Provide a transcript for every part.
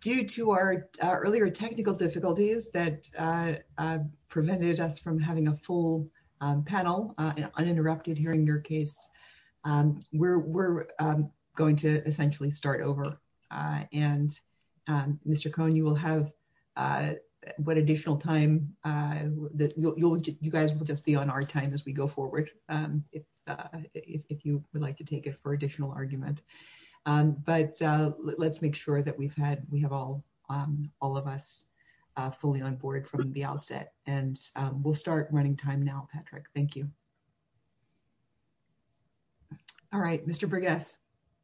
Due to our earlier technical difficulties that prevented us from having a full panel uninterrupted here in your case, we're going to essentially start over and Mr. Cohen, you will have what additional time you guys will just be on our time as we go forward if you would like to take it for additional argument. But let's make sure that we've had we have all all of us fully on board from the outset and we'll start running time now. Patrick. Thank you. All right, Mr.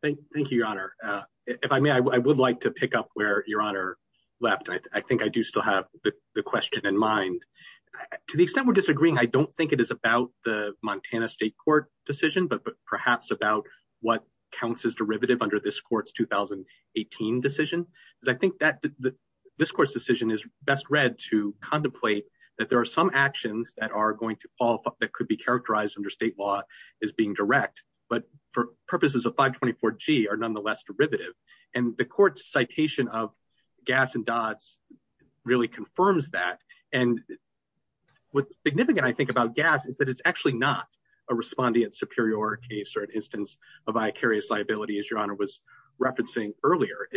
Thank you, your honor. If I may, I would like to pick up where your honor left. I think I do still have the question in mind. To the extent we're disagreeing, I don't think it is about the Montana State Court decision, but perhaps about what counts as derivative under this court's 2018 decision. I think that this court's decision is best read to contemplate that there are some actions that are going to fall that could be characterized under state law is being direct, but for purposes of 524 G are nonetheless derivative. And the court's citation of gas and dots really confirms that. And what's significant, I think, about gas is that it's actually not a respondent superior case or an instance of vicarious liability is your honor was referencing earlier.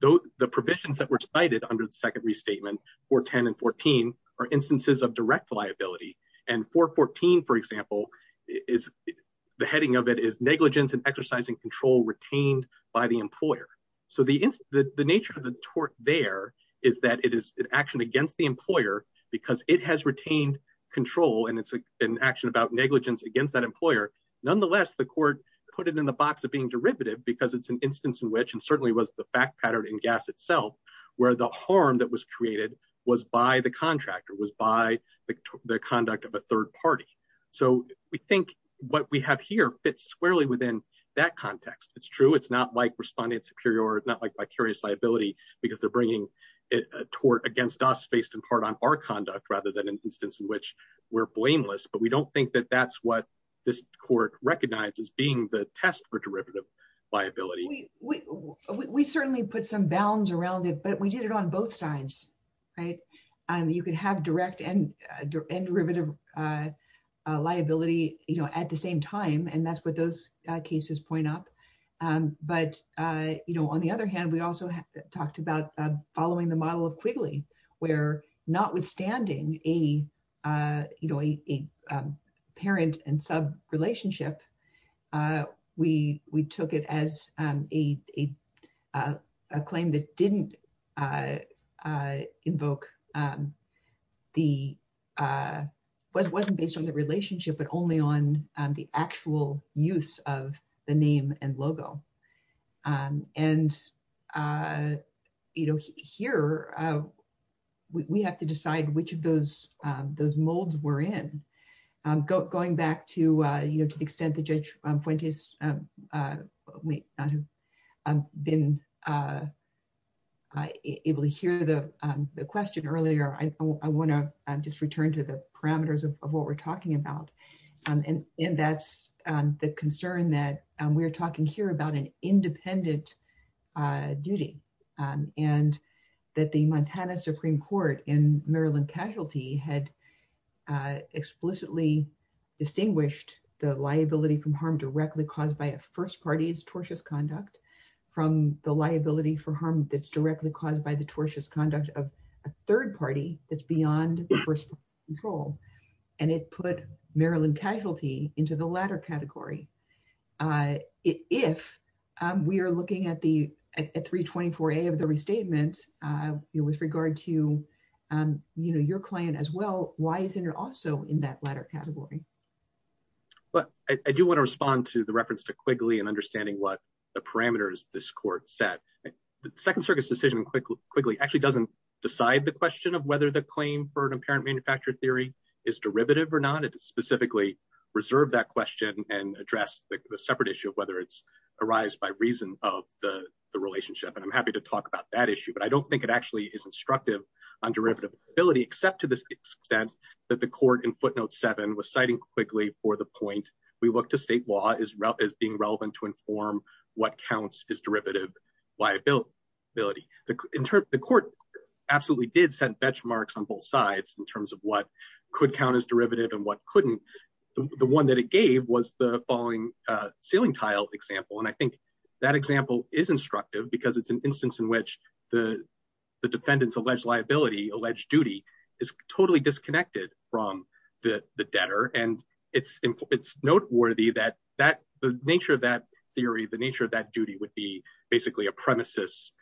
The provisions that were cited under the second restatement for 10 and 14 are instances of direct liability and 414, for example, is The heading of it is negligence and exercising control retained by the employer. So the, the nature of the tort there is that it is an action against the employer because it has retained Control and it's an action about negligence against that employer. Nonetheless, the court put it in the box of being derivative because it's an instance in which and certainly was the fact pattern in gas itself. Where the harm that was created was by the contractor was by the conduct of a third party. So we think what we have here fits squarely within that context. It's true. It's not like responding superior. It's not like vicarious liability because they're bringing Tort against us based in part on our conduct, rather than an instance in which we're blameless, but we don't think that that's what this court recognizes being the test for derivative liability. We certainly put some bounds around it, but we did it on both sides. Right. And you can have direct and derivative Liability, you know, at the same time. And that's what those cases point up. But, you know, on the other hand, we also talked about following the model of Quigley where notwithstanding a You know, a parent and sub relationship. We, we took it as a Claim that didn't Invoke The Was wasn't based on the relationship, but only on the actual use of the name and logo. And You know, here. We have to decide which of those those molds were in go going back to, you know, to the extent the judge point is We Been Able to hear the question earlier. I want to just return to the parameters of what we're talking about. And that's the concern that we're talking here about an independent Duty and that the Montana Supreme Court in Maryland casualty had Explicitly distinguished the liability from harm directly caused by a first parties tortious conduct from the liability for harm that's directly caused by the tortuous conduct of a third party that's beyond the first role and it put Maryland casualty into the latter category. If we are looking at the 324 a of the restatement with regard to, you know, your client as well. Why isn't it also in that latter category. But I do want to respond to the reference to quickly and understanding what the parameters. This court said Second Circus decision quickly quickly actually doesn't decide the question of whether the claim for an apparent manufacturer theory is derivative or not. It specifically Reserve that question and address the separate issue of whether it's arise by reason of the relationship and I'm happy to talk about that issue, but I don't think it actually is instructive On derivative ability, except to the extent that the court and footnote seven was citing quickly for the point we look to state law is route is being relevant to inform what counts is derivative Liability ability to interpret the court absolutely did said benchmarks on both sides in terms of what could count as derivative and what couldn't The one that it gave was the following ceiling tile example. And I think that example is instructive because it's an instance in which the Defendants alleged liability alleged duty is totally disconnected from the debtor and it's it's noteworthy that that the nature of that theory, the nature of that duty would be basically a premises.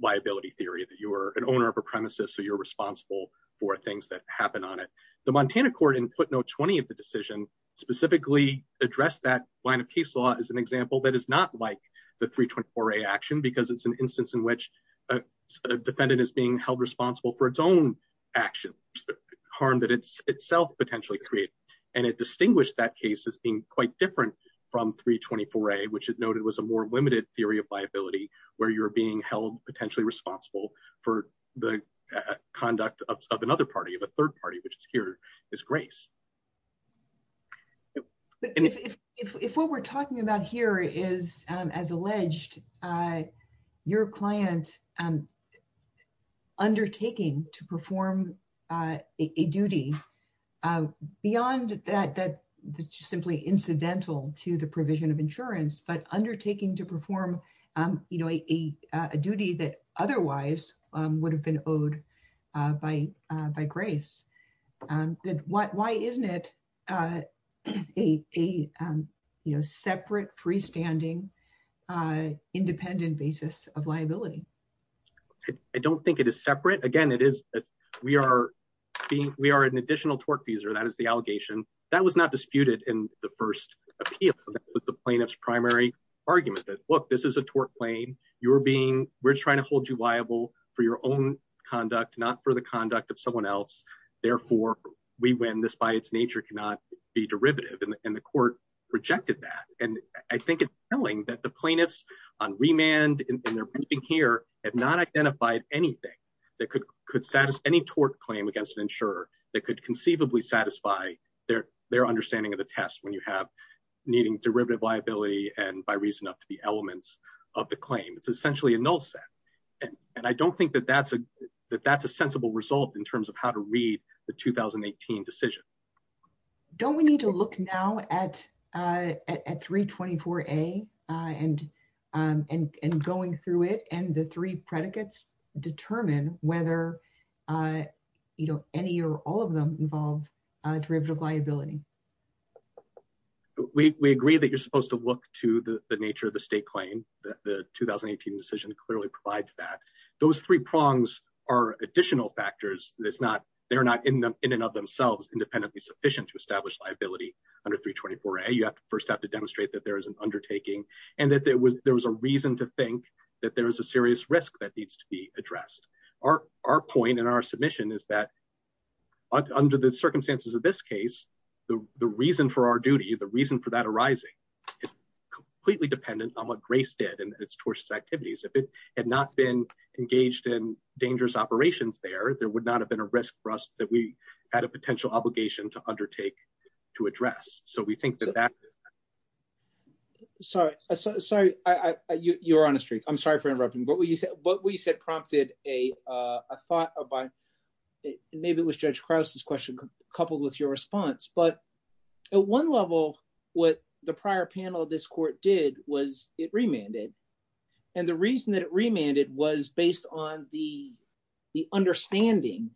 Liability theory that you are an owner of a premises. So you're responsible for things that happen on it. The Montana court input note 20 of the decision specifically address that line of case law is an example that is not like the 324 a action because it's an instance in which Defendant is being held responsible for its own action harm that it's itself potentially create And it distinguished that case is being quite different from 324 a which is noted was a more limited theory of liability, where you're being held potentially responsible for the conduct of another party of a third party, which is here is grace. If what we're talking about here is as alleged Your client and Undertaking to perform a duty. Beyond that, that simply incidental to the provision of insurance, but undertaking to perform, you know, a duty that otherwise would have been owed by by grace. What, why isn't it A Separate freestanding Independent basis of liability. I don't think it is separate. Again, it is that we are being we are an additional torque user that is the allegation that was not disputed in the first Appeal with the plaintiff's primary argument that look, this is a torque plane, you're being we're trying to hold you liable for your own conduct, not for the conduct of someone else. Therefore, we win this by its nature cannot be derivative and the court rejected that. And I think it's telling that the plaintiffs on remand and they're briefing here have not identified anything That could could satisfy any torque claim against an insurer that could conceivably satisfy their, their understanding of the test when you have Needing derivative liability and by reason of the elements of the claim. It's essentially a null set. And I don't think that that's a that that's a sensible result in terms of how to read the 2018 decision. Don't we need to look now at at 324 a and and going through it and the three predicates determine whether You know, any or all of them involved derivative liability. We agree that you're supposed to look to the nature of the state claim that the 2018 decision clearly provides that Those three prongs are additional factors that's not they're not in the in and of themselves independently sufficient to establish liability. Under 324 a you have to first have to demonstrate that there is an undertaking and that there was there was a reason to think that there was a serious risk that needs to be addressed our, our point in our submission is that Under the circumstances of this case, the, the reason for our duty. The reason for that arising. Completely dependent on what grace dead and its tourist activities. If it had not been engaged in dangerous operations there, there would not have been a risk for us that we had a potential obligation to undertake to address. So we think that that Sorry, sorry. I you're on a streak. I'm sorry for interrupting. But what you said, what we said prompted a thought of Maybe it was Judge cross this question, coupled with your response, but at one level with the prior panel. This court did was it remanded And the reason that remanded was based on the, the understanding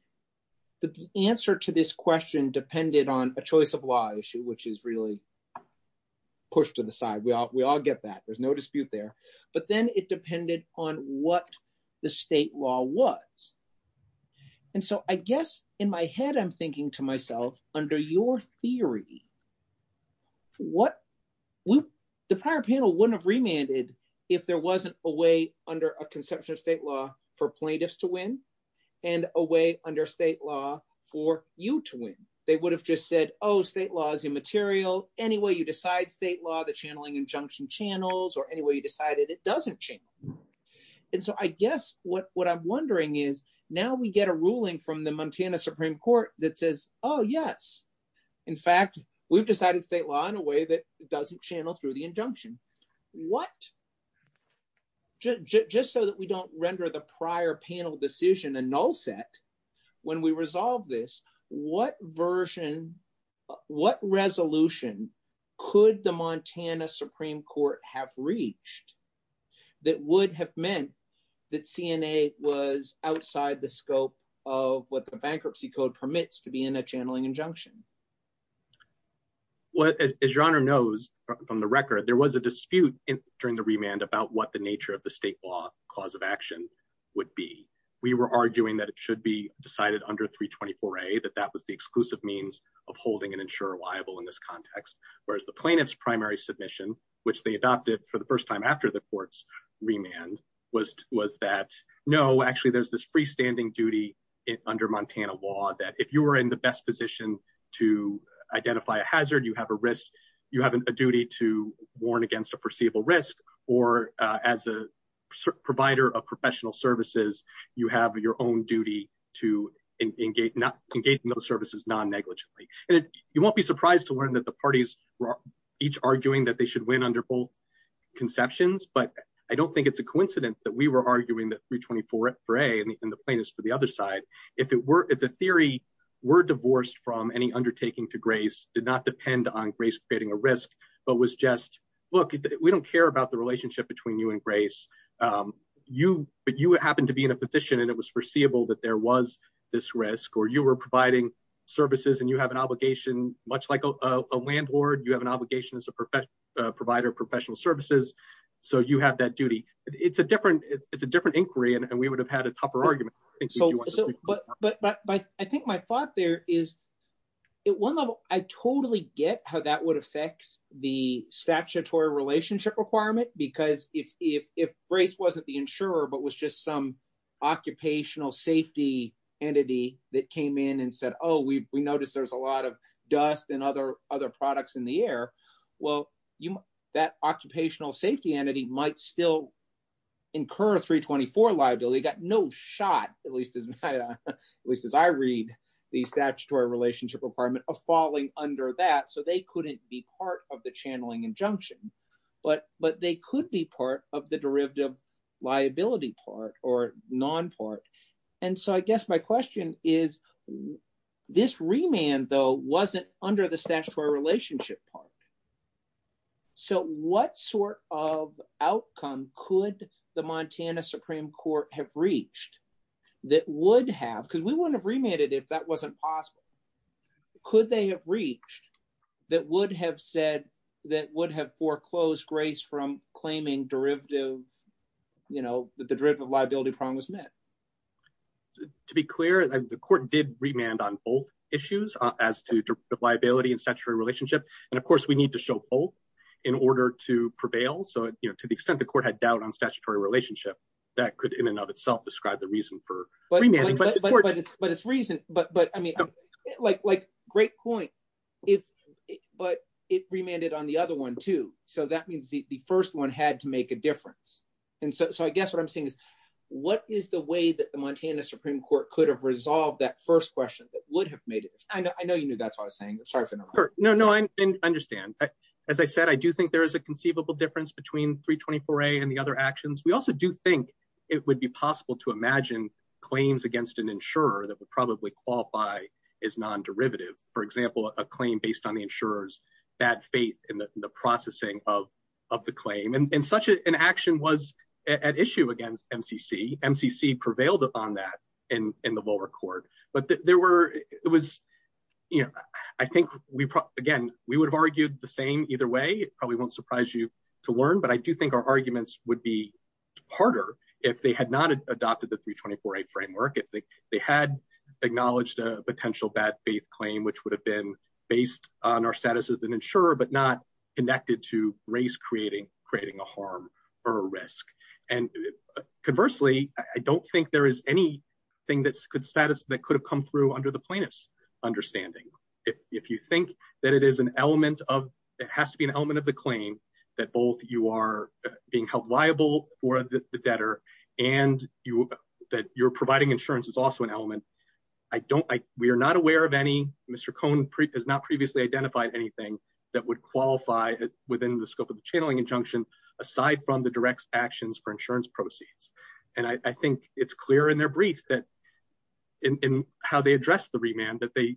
the answer to this question depended on a choice of why issue, which is really Push to the side. Well, we all get that there's no dispute there, but then it depended on what the state law was And so I guess in my head. I'm thinking to myself under your theory. What would the power panel wouldn't have remanded if there wasn't a way under a conception of state law for plaintiffs to win. And a way under state law for you to win. They would have just said, oh, state laws immaterial. Anyway, you decide state law the channeling injunction channels or any way you decided it doesn't change. And so I guess what what I'm wondering is now we get a ruling from the Montana Supreme Court that says, oh yes. In fact, we've decided state law in a way that doesn't channel through the injunction. What Just so that we don't render the prior panel decision and all set when we resolve this what version what resolution could the Montana Supreme Court have reached that would have meant that CNA was outside the scope of what the bankruptcy code permits to be in a channeling injunction. What is your honor knows from the record. There was a dispute in during the remand about what the nature of the state law cause of action. Would be we were arguing that it should be decided under 324 a that that was the exclusive means of holding an insurer liable in this context, whereas the plaintiff's primary submission, which they adopted for the first time after the courts. Remand was was that no actually there's this freestanding duty it under Montana law that if you are in the best position to identify a hazard, you have a risk. You have a duty to warn against a perceivable risk or as a provider of professional services, you have your own duty to engage not engage in those services non negligently. You won't be surprised to learn that the parties are each arguing that they should win under both Conceptions, but I don't think it's a coincidence that we were arguing that 324 for a and the plaintiffs for the other side. If it were at the theory. Were divorced from any undertaking to grace did not depend on grace creating a risk, but was just look, we don't care about the relationship between you and grace. You, but you happen to be in a position and it was foreseeable that there was this risk or you were providing services and you have an obligation, much like a landlord, you have an obligation as a professional provider professional services. So you have that duty. It's a different. It's a different inquiry and we would have had a tougher argument. But, but, but I think my thought there is At one level, I totally get how that would affect the statutory relationship requirement because if if if race wasn't the insurer, but was just some Occupational safety entity that came in and said, oh, we noticed there's a lot of dust and other other products in the air. Well, you that occupational safety entity might still Incur 324 liability got no shot, at least as I read the statutory relationship requirement of falling under that. So they couldn't be part of the channeling injunction. But, but they could be part of the derivative liability part or non part. And so I guess my question is, this remand though wasn't under the statutory relationship part So what sort of outcome could the Montana Supreme Court have reached that would have because we want to remand it if that wasn't possible. Could they have reached that would have said that would have foreclosed grace from claiming derivative, you know, the derivative liability promise met. To be clear, the court did remand on both issues as to the liability and statutory relationship. And of course, we need to show both in order to prevail. So, you know, to the extent the court had doubt on statutory relationship that could in and of itself describe the reason for But it's reason but but I mean like like great point it but it remanded on the other one, too. So that means the first one had to make a difference. And so I guess what I'm saying is, what is the way that the Montana Supreme Court could have resolved that first question that would have made it. I know, I know you knew that's what I'm saying. Sorry for No, no, I understand. As I said, I do think there is a conceivable difference between 324 and the other actions. We also do think It would be possible to imagine claims against an insurer that would probably qualify is non derivative, for example, a claim based on the insurers Bad faith in the processing of of the claim and such an action was at issue against MCC MCC prevailed on that in in the lower court, but there were, it was You know, I think we again we would have argued the same. Either way, probably won't surprise you to learn, but I do think our arguments would be Harder if they had not adopted the 324 a framework if they they had Acknowledged a potential bad faith claim which would have been based on our status as an insurer, but not connected to race creating creating a harm or risk and Conversely, I don't think there is any thing that's good status that could have come through under the plaintiffs understanding If you think that it is an element of it has to be an element of the claim that both you are being held liable for the debtor and you That you're providing insurance is also an element. I don't like we are not aware of any Mr cone pre has not previously identified anything That would qualify that within the scope of the channeling injunction aside from the direct actions for insurance proceeds and I think it's clear in their brief that In how they address the remand that they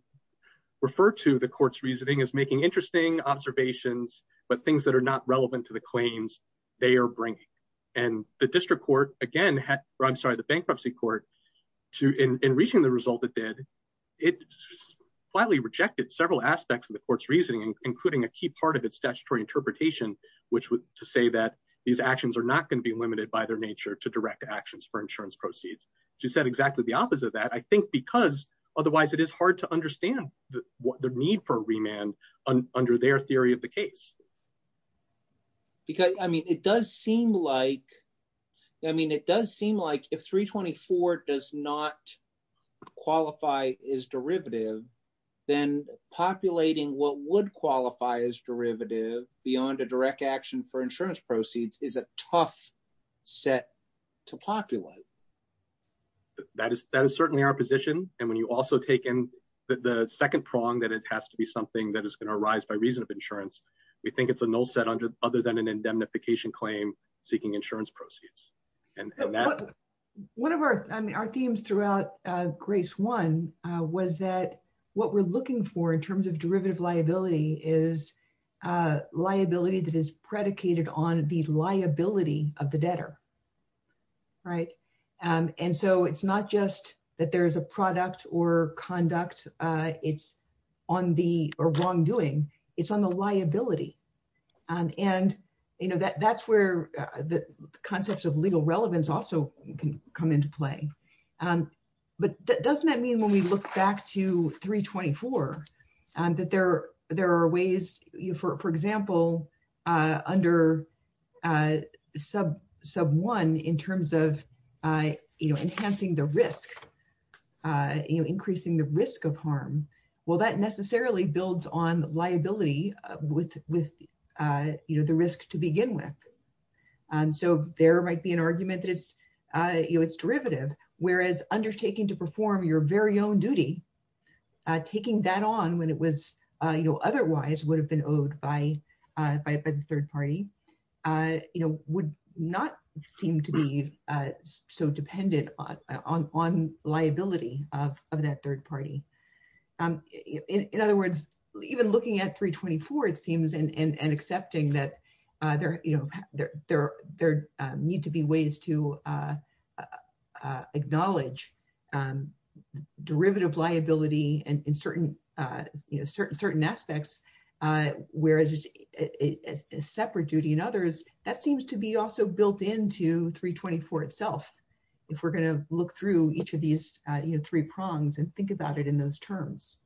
refer to the courts reasoning is making interesting observations, but things that are not relevant to the claims they are bringing And the district court again had run sorry the bankruptcy court to in reaching the result that did it. Quietly rejected several aspects of the court's reasoning, including a key part of its statutory interpretation, which would say that These actions are not going to be limited by their nature to direct actions for insurance proceeds. She said exactly the opposite of that, I think, because otherwise it is hard to understand what the need for remand under their theory of the case. Because I mean it does seem like I mean it does seem like if 324 does not Qualify is derivative, then populating what would qualify as derivative beyond a direct action for insurance proceeds is a tough set to populate That is, that is certainly our position. And when you also taken the second prong that it has to be something that is going to arise by reason of insurance. We think it's an old set under other than an indemnification claim seeking insurance proceeds and One of our themes throughout grace one was that what we're looking for in terms of derivative liability is liability that is predicated on these liability of the debtor. Right. And so it's not just that there's a product or conduct. It's on the wrongdoing. It's on the liability. And, you know, that that's where the concepts of legal relevance. Also, you can come into play and but that doesn't mean when we look back to 324 and that there are there are ways you for, for example, under Sub sub one in terms of I, you know, enhancing the risk. Increasing the risk of harm. Well, that necessarily builds on liability with with you know the risk to begin with. And so there might be an argument that it's derivative, whereas undertaking to perform your very own duty taking that on when it was, you know, otherwise would have been owed by by third party. You know, would not seem to be so dependent on liability of that third party. In other words, even looking at 324 it seems and accepting that there, you know, there, there, there need to be ways to Acknowledge Derivative liability and in certain certain certain aspects, whereas a separate duty and others that seems to be also built into 324 itself. If we're going to look through each of these three prongs and think about it in those terms.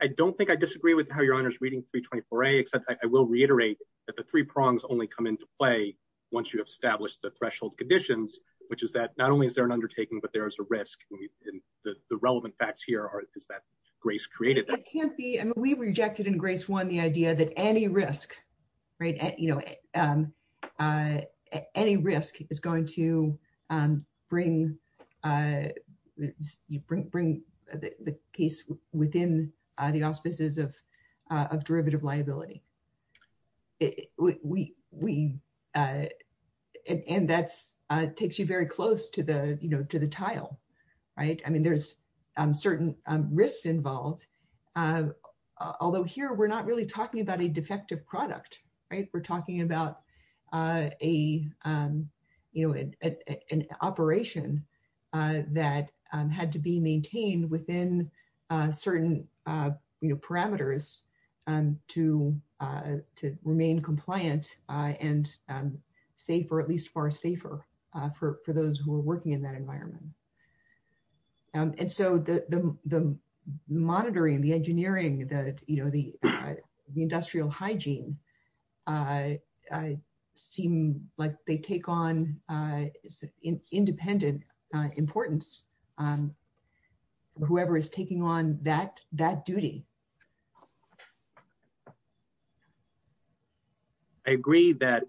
I don't think I disagree with how your honors reading 324 a except I will reiterate that the three prongs only come into play. Once you establish the threshold conditions which is that not only is there an undertaking, but there's a risk in the relevant facts here is that grace created I can't be and we rejected in grace one. The idea that any risk right at, you know, Any risk is going to bring You bring bring the case within the offices of of derivative liability. It we we And that's takes you very close to the, you know, to the title. Right. I mean, there's certain risks involved. Although here we're not really talking about a defective product. Right. We're talking about a You know, an operation that had to be maintained within certain parameters and to remain compliant and safe, or at least far safer for those who are working in that environment. And so the monitoring the engineering that you know the industrial hygiene. I seem like they take on independent importance. Whoever is taking on that that duty. I agree that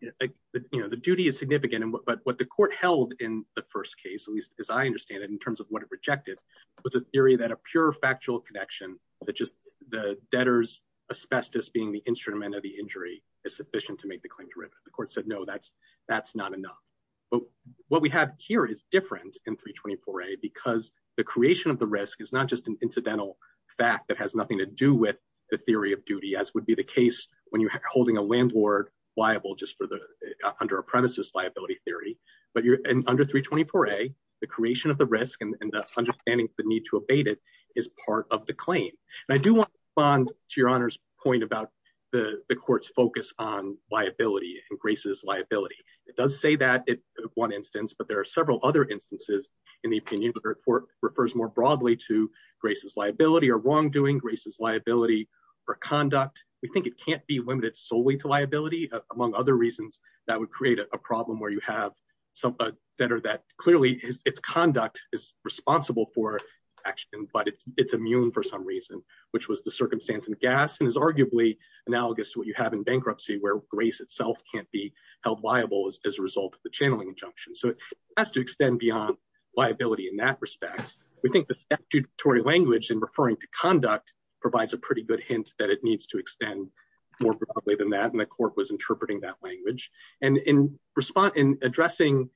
You know, the duty is significant. But what the court held in the first case, at least as I understand it, in terms of what rejected With a theory that a pure factual connection that just the debtors asbestos being the instrument of the injury is sufficient to make the claim to the court said no, that's, that's not enough. But what we have here is different in 324 a because the creation of the risk is not just an incidental fact that has nothing to do with The theory of duty, as would be the case when you're holding a landlord liable just for the under premises liability theory. But you're under 324 a the creation of the risk and understanding the need to abate it is part of the claim. I do want to respond to your honor's point about The courts focus on liability and graces liability. It does say that it one instance, but there are several other instances. In the opinion of the court refers more broadly to graces liability or wrongdoing graces liability. For conduct. We think it can't be limited solely to liability, among other reasons that would create a problem where you have Something that are that clearly it's conduct is responsible for action, but it's it's immune. For some reason, which was the circumstance and gas and is arguably Analogous what you have in bankruptcy where grace itself can't be held liable as a result of the channeling junction. So it has to extend beyond Liability in that respect. We think the statutory language and referring to conduct provides a pretty good hint that it needs to extend More broadly than that. And the court was interpreting that language and in response in addressing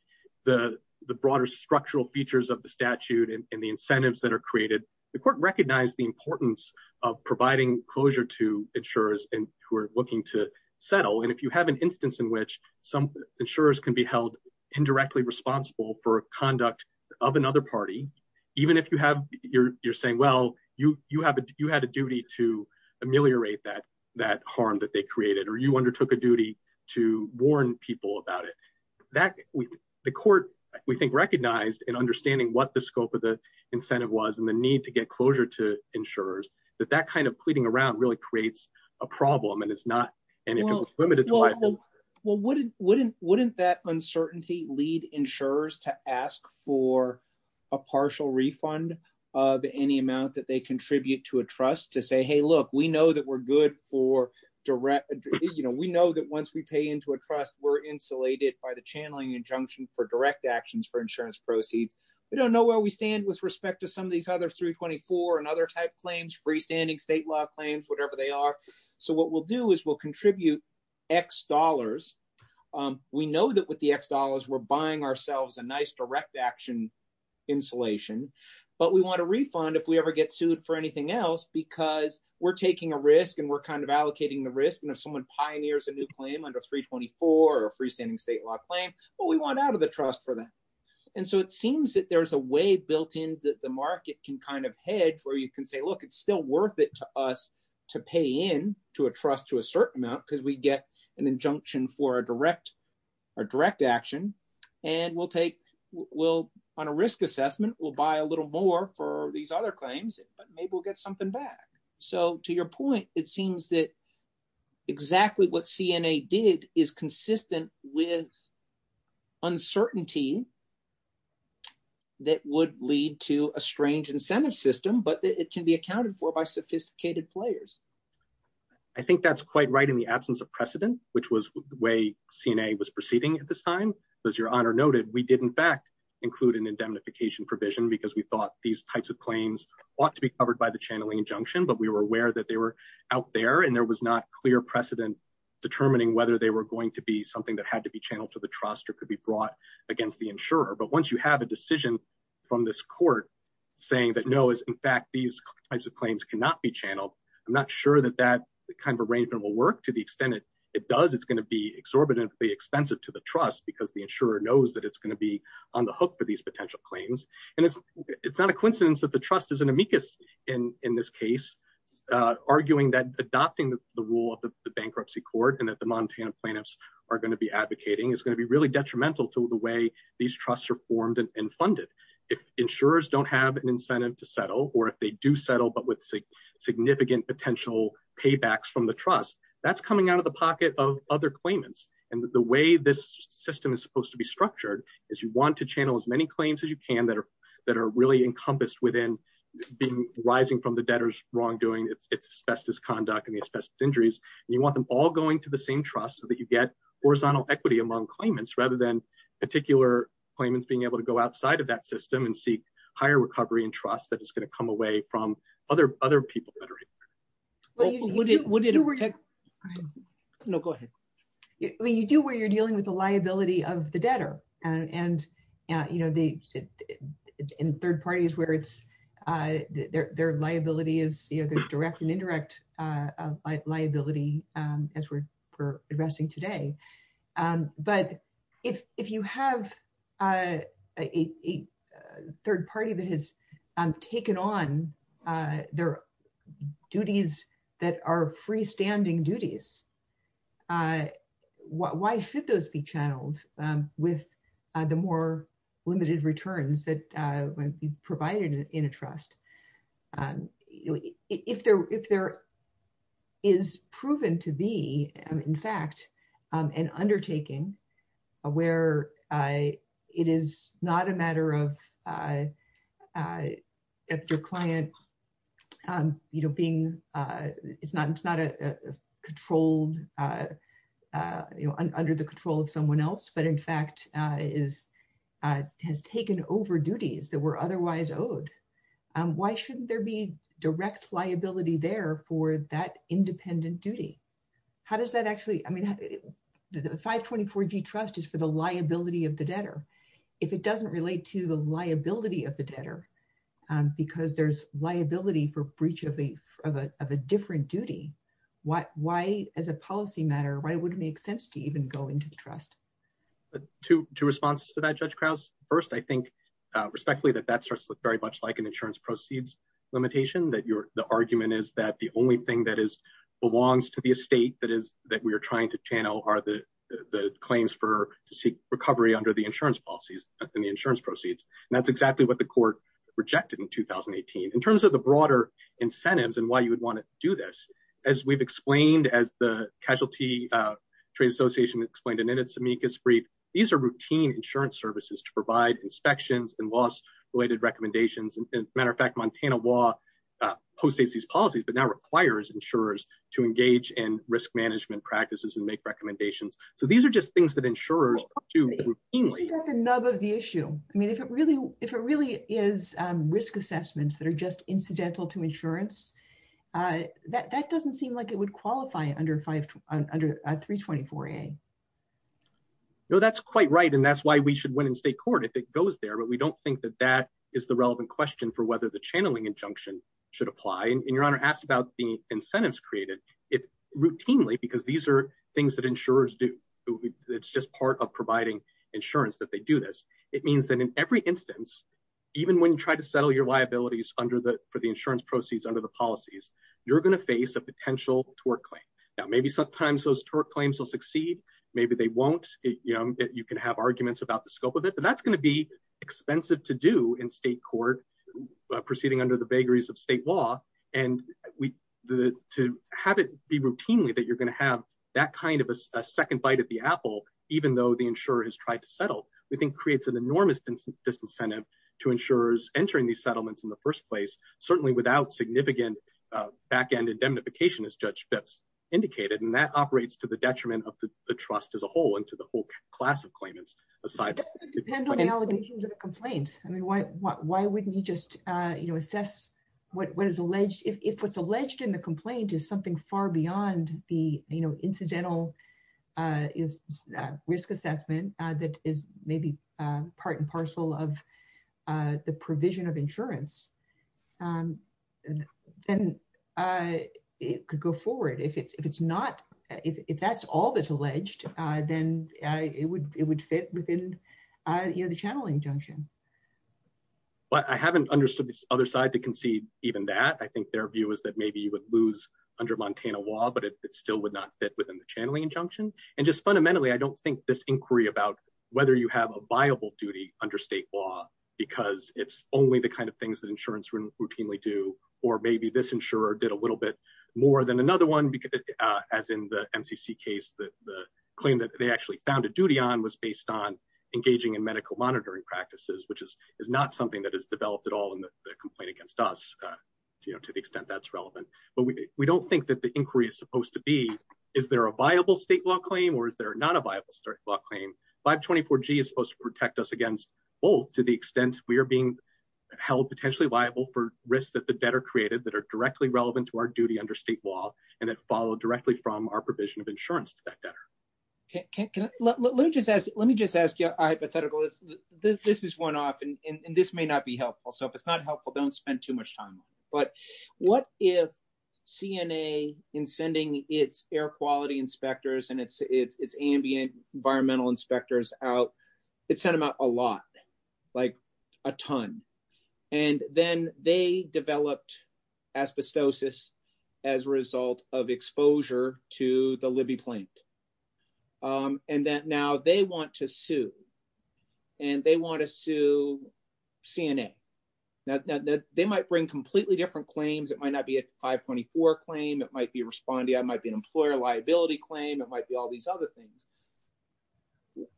The, the broader structural features of the statute and the incentives that are created the court recognize the importance Of providing closure to insurers and who are looking to settle. And if you have an instance in which some insurers can be held indirectly responsible for conduct of another party. Even if you have your, you're saying, well, you, you have you had a duty to ameliorate that that harm that they created or you undertook a duty to warn people about it. That we the court, we think, recognized and understanding what the scope of the incentive was and the need to get closure to insurers that that kind of pleading around really creates a problem. And it's not And it was limited. Well, wouldn't, wouldn't, wouldn't that uncertainty lead insurers to ask for a partial refund of any amount that they contribute to a trust to say, hey, look, we know that we're good for direct You know, we know that once we pay into a trust were insulated by the channeling injunction for direct actions for insurance proceeds. We don't know where we stand with respect to some of these other 324 and other type claims freestanding state law claims, whatever they are. So what we'll do is we'll contribute X dollars. We know that with the X dollars we're buying ourselves a nice direct action. Insulation, but we want to refund if we ever get sued for anything else because we're taking a risk and we're kind of allocating the risk and if someone pioneers a new claim under 324 or freestanding state law claim what we want out of the trust for them. And so it seems that there's a way built in that the market can kind of head where you can say, look, it's still worth it to us to pay in to a trust to a certain amount because we get an injunction for a direct Direct action and we'll take will on a risk assessment will buy a little more for these other claims, but maybe we'll get something back. So to your point, it seems that exactly what CNA did is consistent with uncertainty. That would lead to a strange incentive system, but it can be accounted for by sophisticated players. I think that's quite right in the absence of precedent, which was way CNA was proceeding at the time. As your honor noted, we did in fact. Include an indemnification provision because we thought these types of claims ought to be covered by the channeling injunction, but we were aware that they were Out there and there was not clear precedent determining whether they were going to be something that had to be channeled to the trust or could be brought against the insurer. But once you have a decision from this court. Saying that no is in fact these types of claims cannot be channeled. I'm not sure that that kind of arrangement will work to the extent it It does, it's going to be exorbitantly expensive to the trust because the insurer knows that it's going to be on the hook for these potential claims and It's not a coincidence that the trust is an amicus in in this case. Arguing that adopting the rule of the bankruptcy court and at the Montana plaintiffs are going to be advocating is going to be really detrimental to the way these trusts are formed and funded If insurers don't have an incentive to settle or if they do settle, but with Significant potential paybacks from the trust that's coming out of the pocket of other claimants and the way this system is supposed to be structured is you want to channel as many claims as you can that are That are really encompassed within being rising from the debtors wrongdoing its bestest conduct and the best injuries. You want them all going to the same trust that you get horizontal equity among claimants, rather than particular claimants being able to go outside of that system and seek higher recovery and trust that is going to come away from other other people that are What would it would it Know, go ahead. We do where you're dealing with the liability of the debtor and and you know the In third parties where it's their liability is either direct and indirect liability as we're addressing today. But if you have a third party that has taken on their duties that are freestanding duties. I what why should those be channeled with the more limited returns that when you provide it in a trust and if there if there is proven to be. And in fact, an undertaking aware I it is not a matter of I if your client. You know, being. It's not, it's not a controlled Under the control of someone else, but in fact is has taken over duties that were otherwise owed and why shouldn't there be direct liability there for that independent duty. How does that actually I mean 524 D trust is for the liability of the debtor. If it doesn't relate to the liability of the debtor. Because there's liability for breach of a of a different duty. Why, why, as a policy matter, why would it make sense to even go into the trust. To response to that, Judge Krause. First, I think respectfully that that starts with very much like an insurance proceeds limitation that your argument is that the only thing that is Belongs to the estate that is that we are trying to channel are the claims for to seek recovery under the insurance policies and the insurance proceeds. That's exactly what the court. Rejected in 2018 in terms of the broader incentives and why you would want to do this as we've explained as the casualty. Trade Association explained in its amicus brief. These are routine insurance services to provide inspections and loss related recommendations and matter of fact, Montana law. Posted these policies, but now requires insurers to engage in risk management practices and make recommendations. So these are just things that insurers to Another the issue. I mean, if it really, if it really is risk assessments that are just incidental to insurance. That that doesn't seem like it would qualify under five under 324 a No, that's quite right. And that's why we should win in state court if it goes there, but we don't think that that is the relevant question for whether the channeling injunction. Should apply and your honor asked about the incentives created it routinely because these are things that insurers do It's just part of providing insurance that they do this. It means that in every instance. Even when you try to settle your liabilities under the for the insurance proceeds under the policies, you're going to face a potential to work. Now, maybe sometimes those torque claims will succeed. Maybe they won't, you know, you can have arguments about the scope of it, but that's going to be expensive to do in state court. Proceeding under the vagaries of state law and we To have it be routinely that you're going to have that kind of a second bite at the apple, even though the insurer has tried to settle we think creates an enormous Disincentive to insurers entering the settlements in the first place, certainly without significant back end indemnification is judged that's indicated and that operates to the detriment of the trust as a whole, and to the whole class of claimants aside Validations of complaints. I mean, why, why, why wouldn't you just, you know, assess what is alleged if it's alleged in the complaint is something far beyond the, you know, incidental Is risk assessment that is maybe part and parcel of the provision of insurance. And then It could go forward if it's not if that's all that's alleged, then it would, it would fit within your the channeling junction But I haven't understood the other side to concede even that I think their view is that maybe you would lose Under Montana law, but it still would not fit within the channeling junction and just fundamentally I don't think this inquiry about Whether you have a viable duty under state law because it's only the kind of things that insurance routinely do or maybe this insurer did a little bit more than another one because As in the MCC case that the claim that they actually found a duty on was based on engaging in medical monitoring practices, which is not something that is developed at all in the complaint against us. You know, to the extent that's relevant, but we don't think that the inquiry is supposed to be. Is there a viable state law claim or is there not a viable state law claim 524 G is supposed to protect us against both to the extent we are being held potentially liable for risks that the debtor created that are directly relevant to our duty under state law and then follow directly from our provision of insurance to that debtor. Let me just ask you a hypothetical. This is one off and this may not be helpful. So if it's not helpful. Don't spend too much time. But what if CNA in sending its air quality inspectors and its ambient environmental inspectors out, it sent them out a lot, like a ton. And then they developed asbestosis as a result of exposure to the living plant. And that now they want to sue and they want to sue CNA that they might bring completely different claims. It might not be a 524 claim. It might be responding. I might be an employer liability claim. It might be all these other things.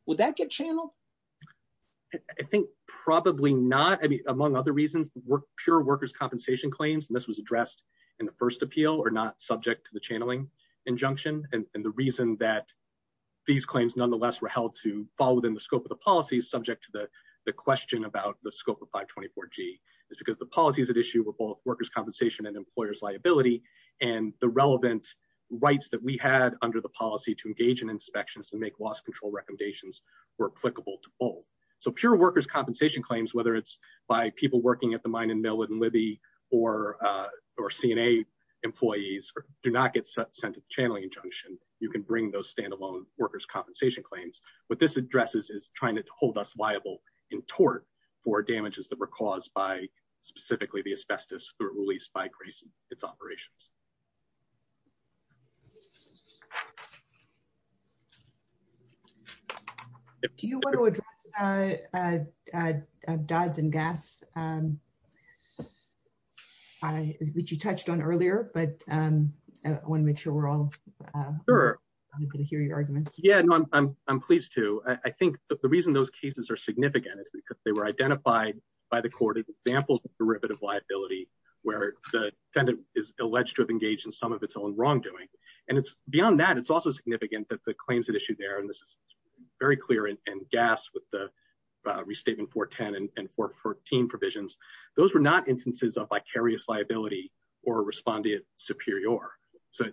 Would that get channel I think probably not. I mean, among other reasons were pure workers compensation claims and this was addressed in the first appeal or not subject to the channeling injunction and the reason that These claims, nonetheless, were held to fall within the scope of the policy subject to the question about the scope of 524 G. Is because the policies at issue with both workers compensation and employers liability and the relevant Rights that we had under the policy to engage in inspections and make loss control recommendations were applicable to all So pure workers compensation claims, whether it's by people working at the mine and mill and Libby or Or CNA employees do not get sent a channeling injunction, you can bring those standalone workers compensation claims, but this addresses is trying to hold us liable in tort for damages that were caused by specifically the asbestos released by Grayson it's operations. Do you want to address DODs and GASs? Which you touched on earlier, but I want to make sure we're all Sure. Hear your argument. Yeah, I'm pleased to. I think the reason those cases are significant because they were identified by the court examples derivative liability. Where the defendant is alleged to have engaged in some of its own wrongdoing and it's beyond that. It's also significant that the claims that issued there and this is Very clear in GAS with the restating 410 and 414 provisions. Those were not instances of vicarious liability or respondeat superior. So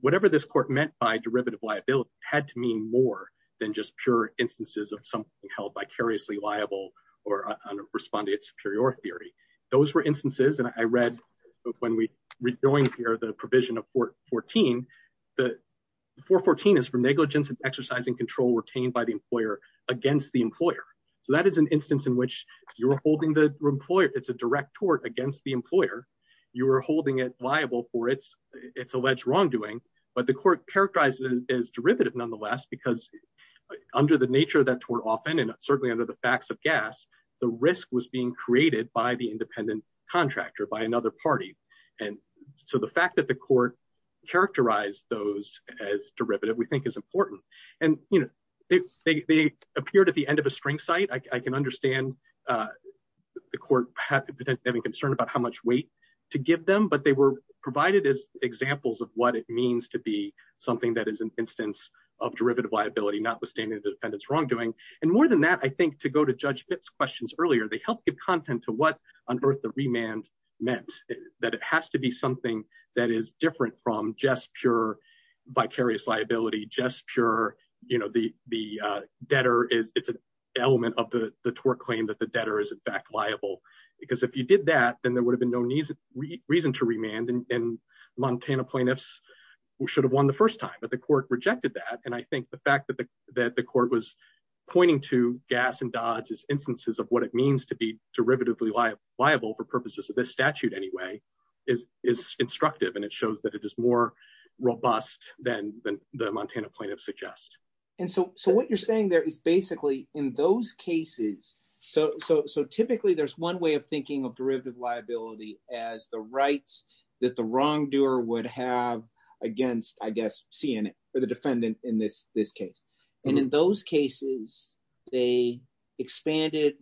Whatever this court meant by derivative liability had to mean more than just pure instances of something held vicariously liable or respondeat superior theory. Those were instances and I read When we read going here, the provision of 414 the 414 is for negligence and exercising control retained by the employer against the employer. So that is an instance in which you're holding the employer. It's a direct tort against the employer. You're holding it liable for it's it's alleged wrongdoing, but the court characterizes is derivative, nonetheless, because Under the nature that were often and certainly under the facts of gas, the risk was being created by the independent contractor by another party. And so the fact that the court characterize those as derivative, we think is important. And, you know, they appeared at the end of the spring site. I can understand. The court having concern about how much weight to give them, but they were provided as examples of what it means to be something that is an instance. Of derivative liability, not withstanding the defendant's wrongdoing. And more than that, I think, to go to judge Fitz questions earlier, they help give content to what on earth the remand meant That it has to be something that is different from just pure vicarious liability just pure, you know, the, the Debtor is an element of the tort claim that the debtor is in fact liable because if you did that, then there would have been no need Reason to remand and Montana plaintiffs should have won the first time, but the court rejected that. And I think the fact that the that the court was Aware of what it means to be derivatively liable for purposes of this statute anyway is is instructive and it shows that it is more robust than the Montana plaintiffs suggest And so, so what you're saying there is basically in those cases. So, so, so typically there's one way of thinking of derivative liability as the rights that the wrongdoer would have Against, I guess, seeing it for the defendant in this this case. And in those cases, they expanded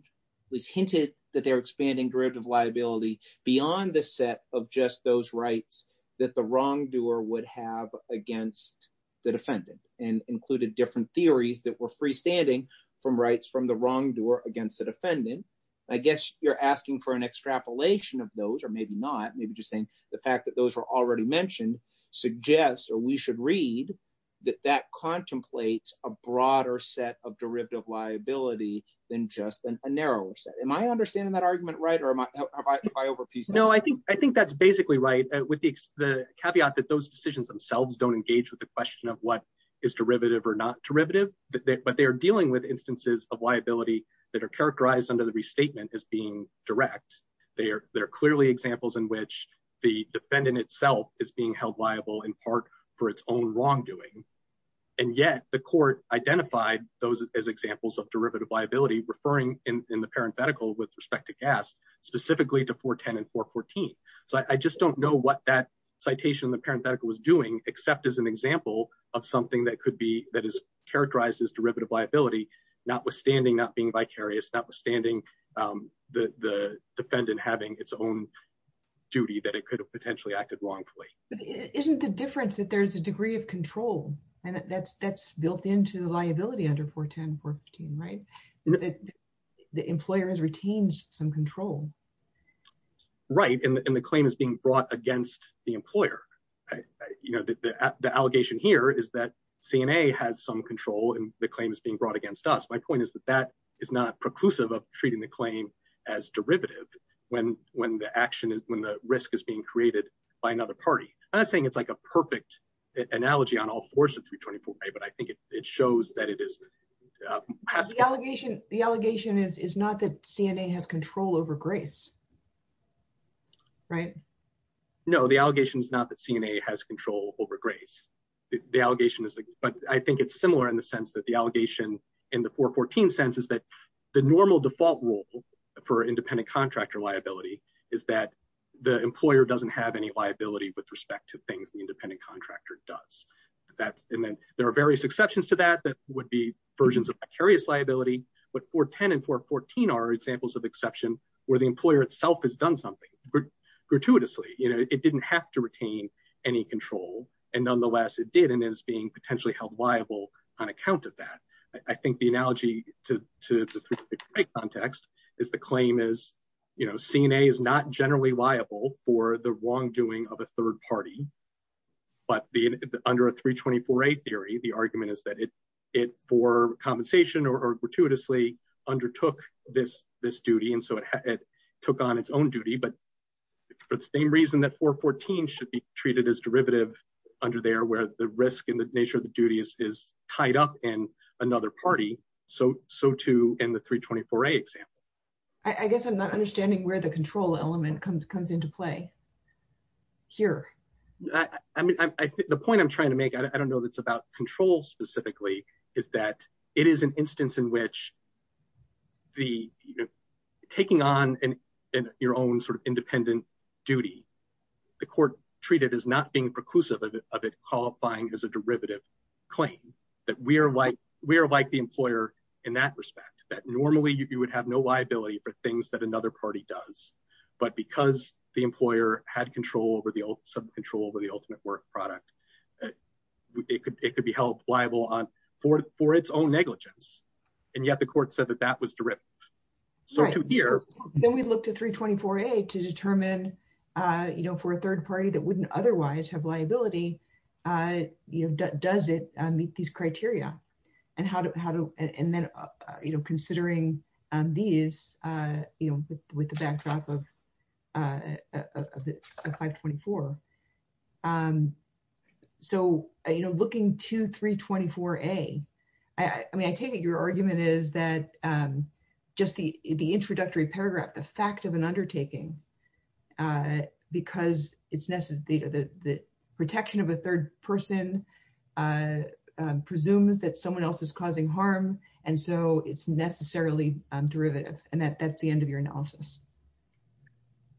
Was hinted that they're expanding derivative liability beyond the set of just those rights that the wrongdoer would have against The defendant and included different theories that were freestanding from rights from the wrongdoer against the defendant. I guess you're asking for an extrapolation of those or maybe not. Maybe just saying the fact that those are already mentioned suggests, or we should read That that contemplates a broader set of derivative liability than just a narrower set. Am I understanding that argument right or am I Over piece. No, I think, I think that's basically right with the caveat that those decisions themselves don't engage with the question of what Is derivative or not derivative, but they are dealing with instances of liability that are characterized under the restatement is being direct They're, they're clearly examples in which the defendant itself is being held liable in part for its own wrongdoing. And yet the court identified those as examples of derivative liability referring in the parenthetical with respect to gas specifically to 410 and 414 So I just don't know what that citation the parenthetical was doing, except as an example of something that could be that is characterized as derivative liability, notwithstanding not being vicarious notwithstanding The defendant having its own duty that it could have potentially acted wrongfully. Isn't the difference that there's a degree of control and that's that's built into the liability under 410 and 414 right The employer has retained some control. Right, and the claim is being brought against the employer. You know that the allegation here is that CNA has some control and the claim is being brought against us. My point is that that is not preclusive of treating the claim. As derivative when when the action is when the risk is being created by another party. I think it's like a perfect analogy on all horses. We 24 day, but I think it shows that it is The allegation. The allegation is is not that CNA has control over grace. Right, no, the allegations, not that CNA has control over grace. The allegation is, but I think it's similar in the sense that the allegation in the 414 census that The normal default rule for independent contractor liability is that the employer doesn't have any liability with respect to things independent contractor does And then there are various exceptions to that that would be versions of various liability, but for tenant for 14 are examples of exception where the employer itself has done something Gratuitously, you know, it didn't have to retain any control and nonetheless it did and is being potentially held liable on account of that. I think the analogy to Context is the claim is, you know, CNA is not generally liable for the wrongdoing of a third party. But the under a 324 a theory. The argument is that it it for compensation or gratuitously undertook this this duty and so it took on its own duty, but But same reason that for 14 should be treated as derivative under there where the risk in the nature of the duties is tied up in another party. So, so to in the 324 a I guess I'm not understanding where the control element comes comes into play. Here. I mean, I think the point I'm trying to make. I don't know that's about control specifically is that it is an instance in which The taking on in your own sort of independent duty. The court treated is not being preclusive of it qualifying as a derivative Claim that we are like we are like the employer in that respect that normally you would have no liability for things that another party does But because the employer had control over the old sub control over the ultimate work product. It could take to be held liable on for for its own negligence and yet the court said that that was terrific. So, here, then we look to 324 a to determine You know, for a third party that wouldn't otherwise have liability. I you've done does it meet these criteria and how to how to and then, you know, considering these, you know, with the backdrop of 524 And so, you know, looking to 324 a I mean I take it. Your argument is that just the the introductory paragraph, the fact of an undertaking. Because it's necessary that the protection of a third person. Presumes that someone else is causing harm. And so it's necessarily derivative and that that's the end of your analysis.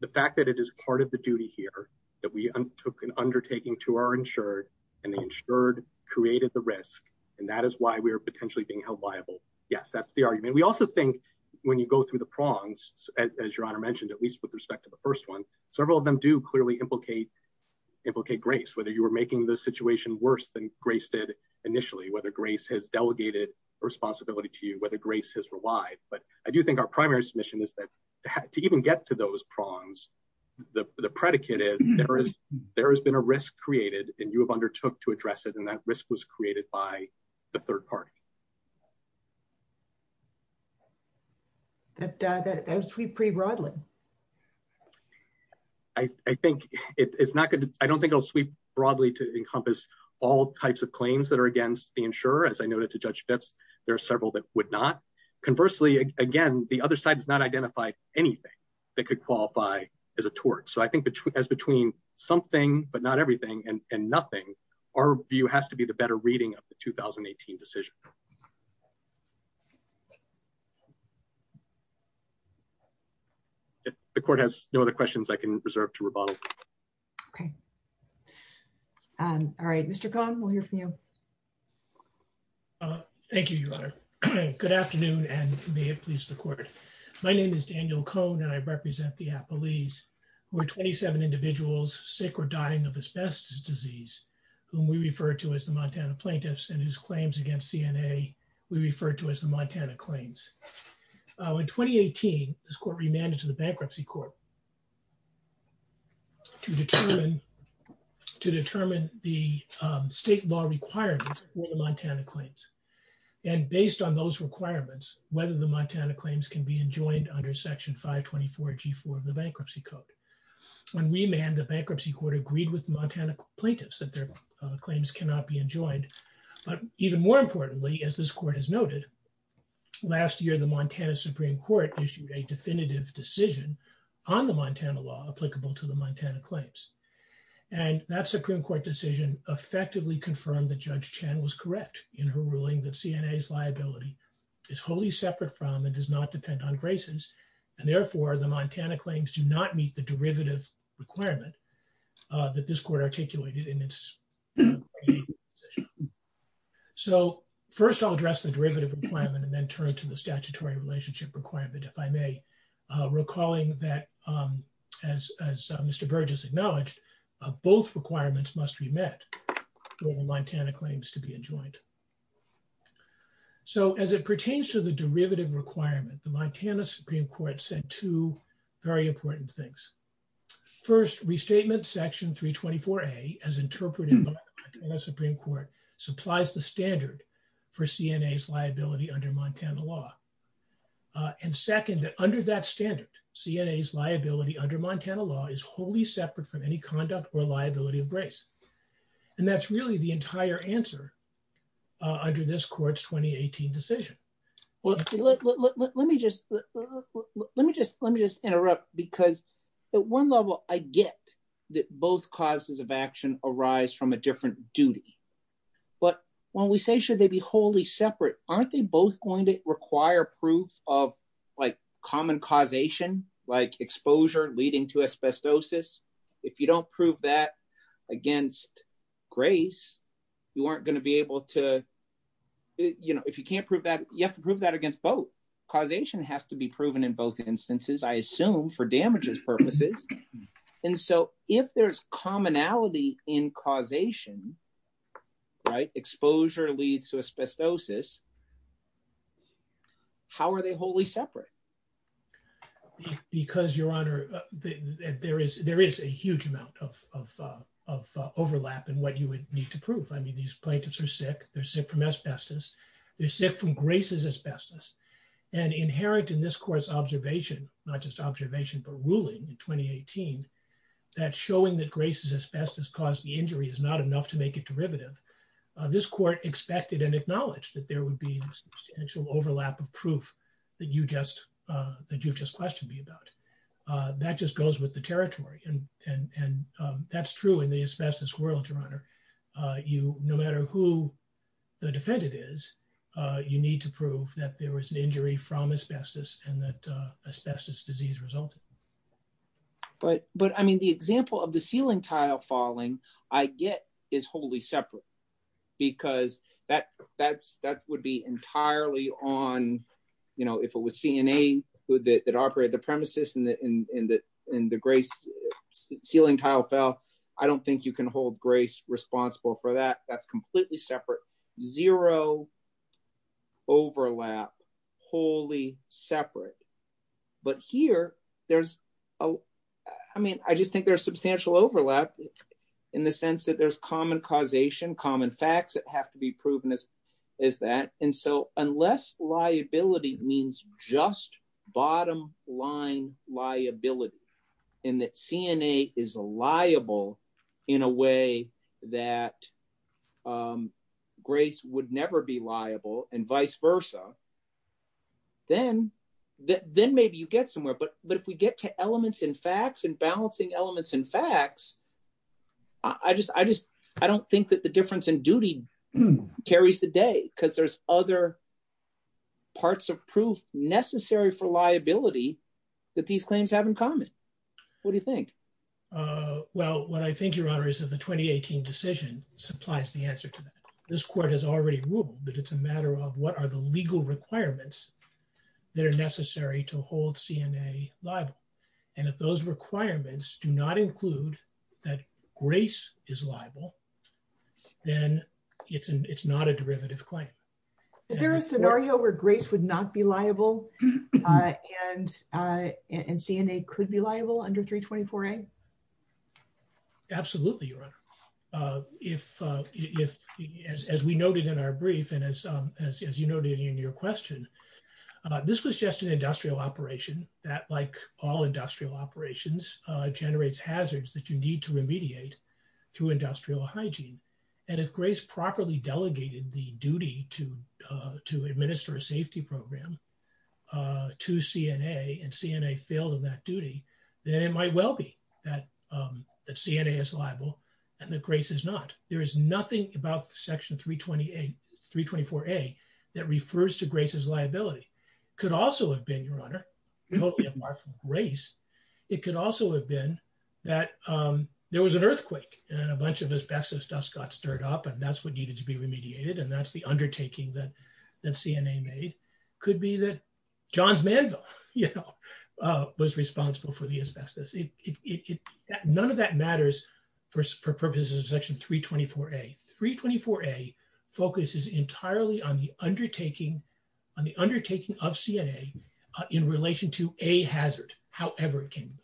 The fact that it is part of the duty here that we took an undertaking to our insured and insured created the risk. And that is why we are potentially being held liable. Yes, that's the argument. We also think When you go through the prongs as your honor mentioned, at least with respect to the first one, several of them do clearly implicate Implicate grace, whether you were making the situation worse than grace did initially whether grace has delegated responsibility to you, whether grace has relied, but I do think our primary submission is that To even get to those prongs. The predicate is there is there has been a risk created and you have undertook to address it and that risk was created by the third party. And that was pretty broadly. I think it's not good. I don't think I'll sweep broadly to encompass all types of claims that are against the insurer, as I noted to judge that there are several that would not Conversely, again, the other side is not identified anything that could qualify as a tort. So I think that as between something but not everything and nothing. Our view has to be the better reading of the 2018 decision. The court has no other questions I can reserve to revolve All right, Mr. Thank you. Good afternoon, and please support. My name is Daniel cone and I represent the police were 27 individuals sick or dying of asbestos disease. Who we refer to as the Montana plaintiffs and his claims against DNA. We refer to as the Montana claims. In 2018 this court remanded to the bankruptcy court. To determine the state law required Montana claims and based on those requirements, whether the Montana claims can be enjoined under Section 524 g for the bankruptcy code. When we manned the bankruptcy court agreed with Montana plaintiffs that their claims cannot be enjoyed. But even more importantly, as this court is noted Last year, the Montana Supreme Court issued a definitive decision on the Montana law applicable to the Montana claims. And that Supreme Court decision effectively confirmed the judge channels correct in her ruling that CNN is liability. Is wholly separate from and does not depend on graces and therefore the Montana claims to not meet the derivative requirement that this court articulated in its So first I'll address the derivative requirement and then turn to the statutory relationship requirement, if I may, recalling that as as Mr Burgess acknowledged both requirements must be met. Montana claims to be enjoined So as it pertains to the derivative requirement, the Montana Supreme Court said two very important things. First, restatement section 324 a as interpreted in the Supreme Court supplies the standard for CNN liability under Montana law. And second, that under that standard CNN liability under Montana law is wholly separate from any conduct or liability of grace. And that's really the entire answer. Under this court's 2018 decision. Well, let me just Let me just let me just interrupt because the one level I get that both classes of action arise from a different duty. But when we say, should they be wholly separate aren't they both going to require proof of like common causation like exposure leading to asbestosis. If you don't prove that against grace, you aren't going to be able to You know, if you can't prove that you have to prove that against both causation has to be proven in both instances, I assume for damages purposes. And so if there's commonality in causation. Right exposure leads to asbestosis. How are they wholly separate Because, Your Honor, there is there is a huge amount of Overlap and what you would need to prove. I mean, these plaintiffs are sick. They're sick from asbestos. They're sick from graces asbestos and inherent in this course observation, not just observation, but ruling in 2018 That showing that graces asbestos caused the injury is not enough to make it derivative this court expected and acknowledged that there would be Overlap of proof that you just that you just questioned me about that just goes with the territory and and and that's true in the asbestos world, Your Honor, you no matter who the defendant is you need to prove that there was an injury from asbestos and that asbestos disease result. But, but, I mean, the example of the ceiling tile falling I get is wholly separate because that that's that would be entirely on You know, if it was seen a with it that operate the premises and the in the in the grace ceiling tile fell. I don't think you can hold grace responsible for that. That's completely separate zero Overlap wholly separate but here there's a, I mean, I just think there's substantial overlap in the sense that there's common causation common facts that have to be proven as Is that and so unless liability means just bottom line liability and that CNA is a liable in a way that Grace would never be liable and vice versa. Then that then maybe you get somewhere. But, but if we get to elements in facts and balancing elements and facts. I just, I just, I don't think that the difference in duty carries the day because there's other Parts of proof necessary for liability that these claims have in common. What do you think Well, what I think your honor is that the 2018 decision supplies the answer to this court has already ruled that it's a matter of what are the legal requirements that are necessary to hold CNA liable and if those requirements do not include that grace is liable. Then it's, it's not a derivative claim. Is there a scenario where grace would not be liable. And and CNA could be liable under 324 a Absolutely. If, if, as we noted in our brief and as as you noted in your question. This was just an industrial operation that like all industrial operations generates hazards that you need to remediate To industrial hygiene and if grace properly delegated the duty to to administer a safety program. To CNA and CNA failed in that duty, then it might well be that the CNA is liable and the grace is not there is nothing about section 328 324 a that refers to grace is liability. Could also have been your honor. Race. It could also have been that there was an earthquake and a bunch of asbestos dust got stirred up and that's what needed to be remediated. And that's the undertaking that CNA may could be that John's man, you know, was responsible for the asbestos. None of that matters for purposes of section 324 a 324 a focuses entirely on the undertaking on the undertaking of CNA in relation to a hazard. However, it can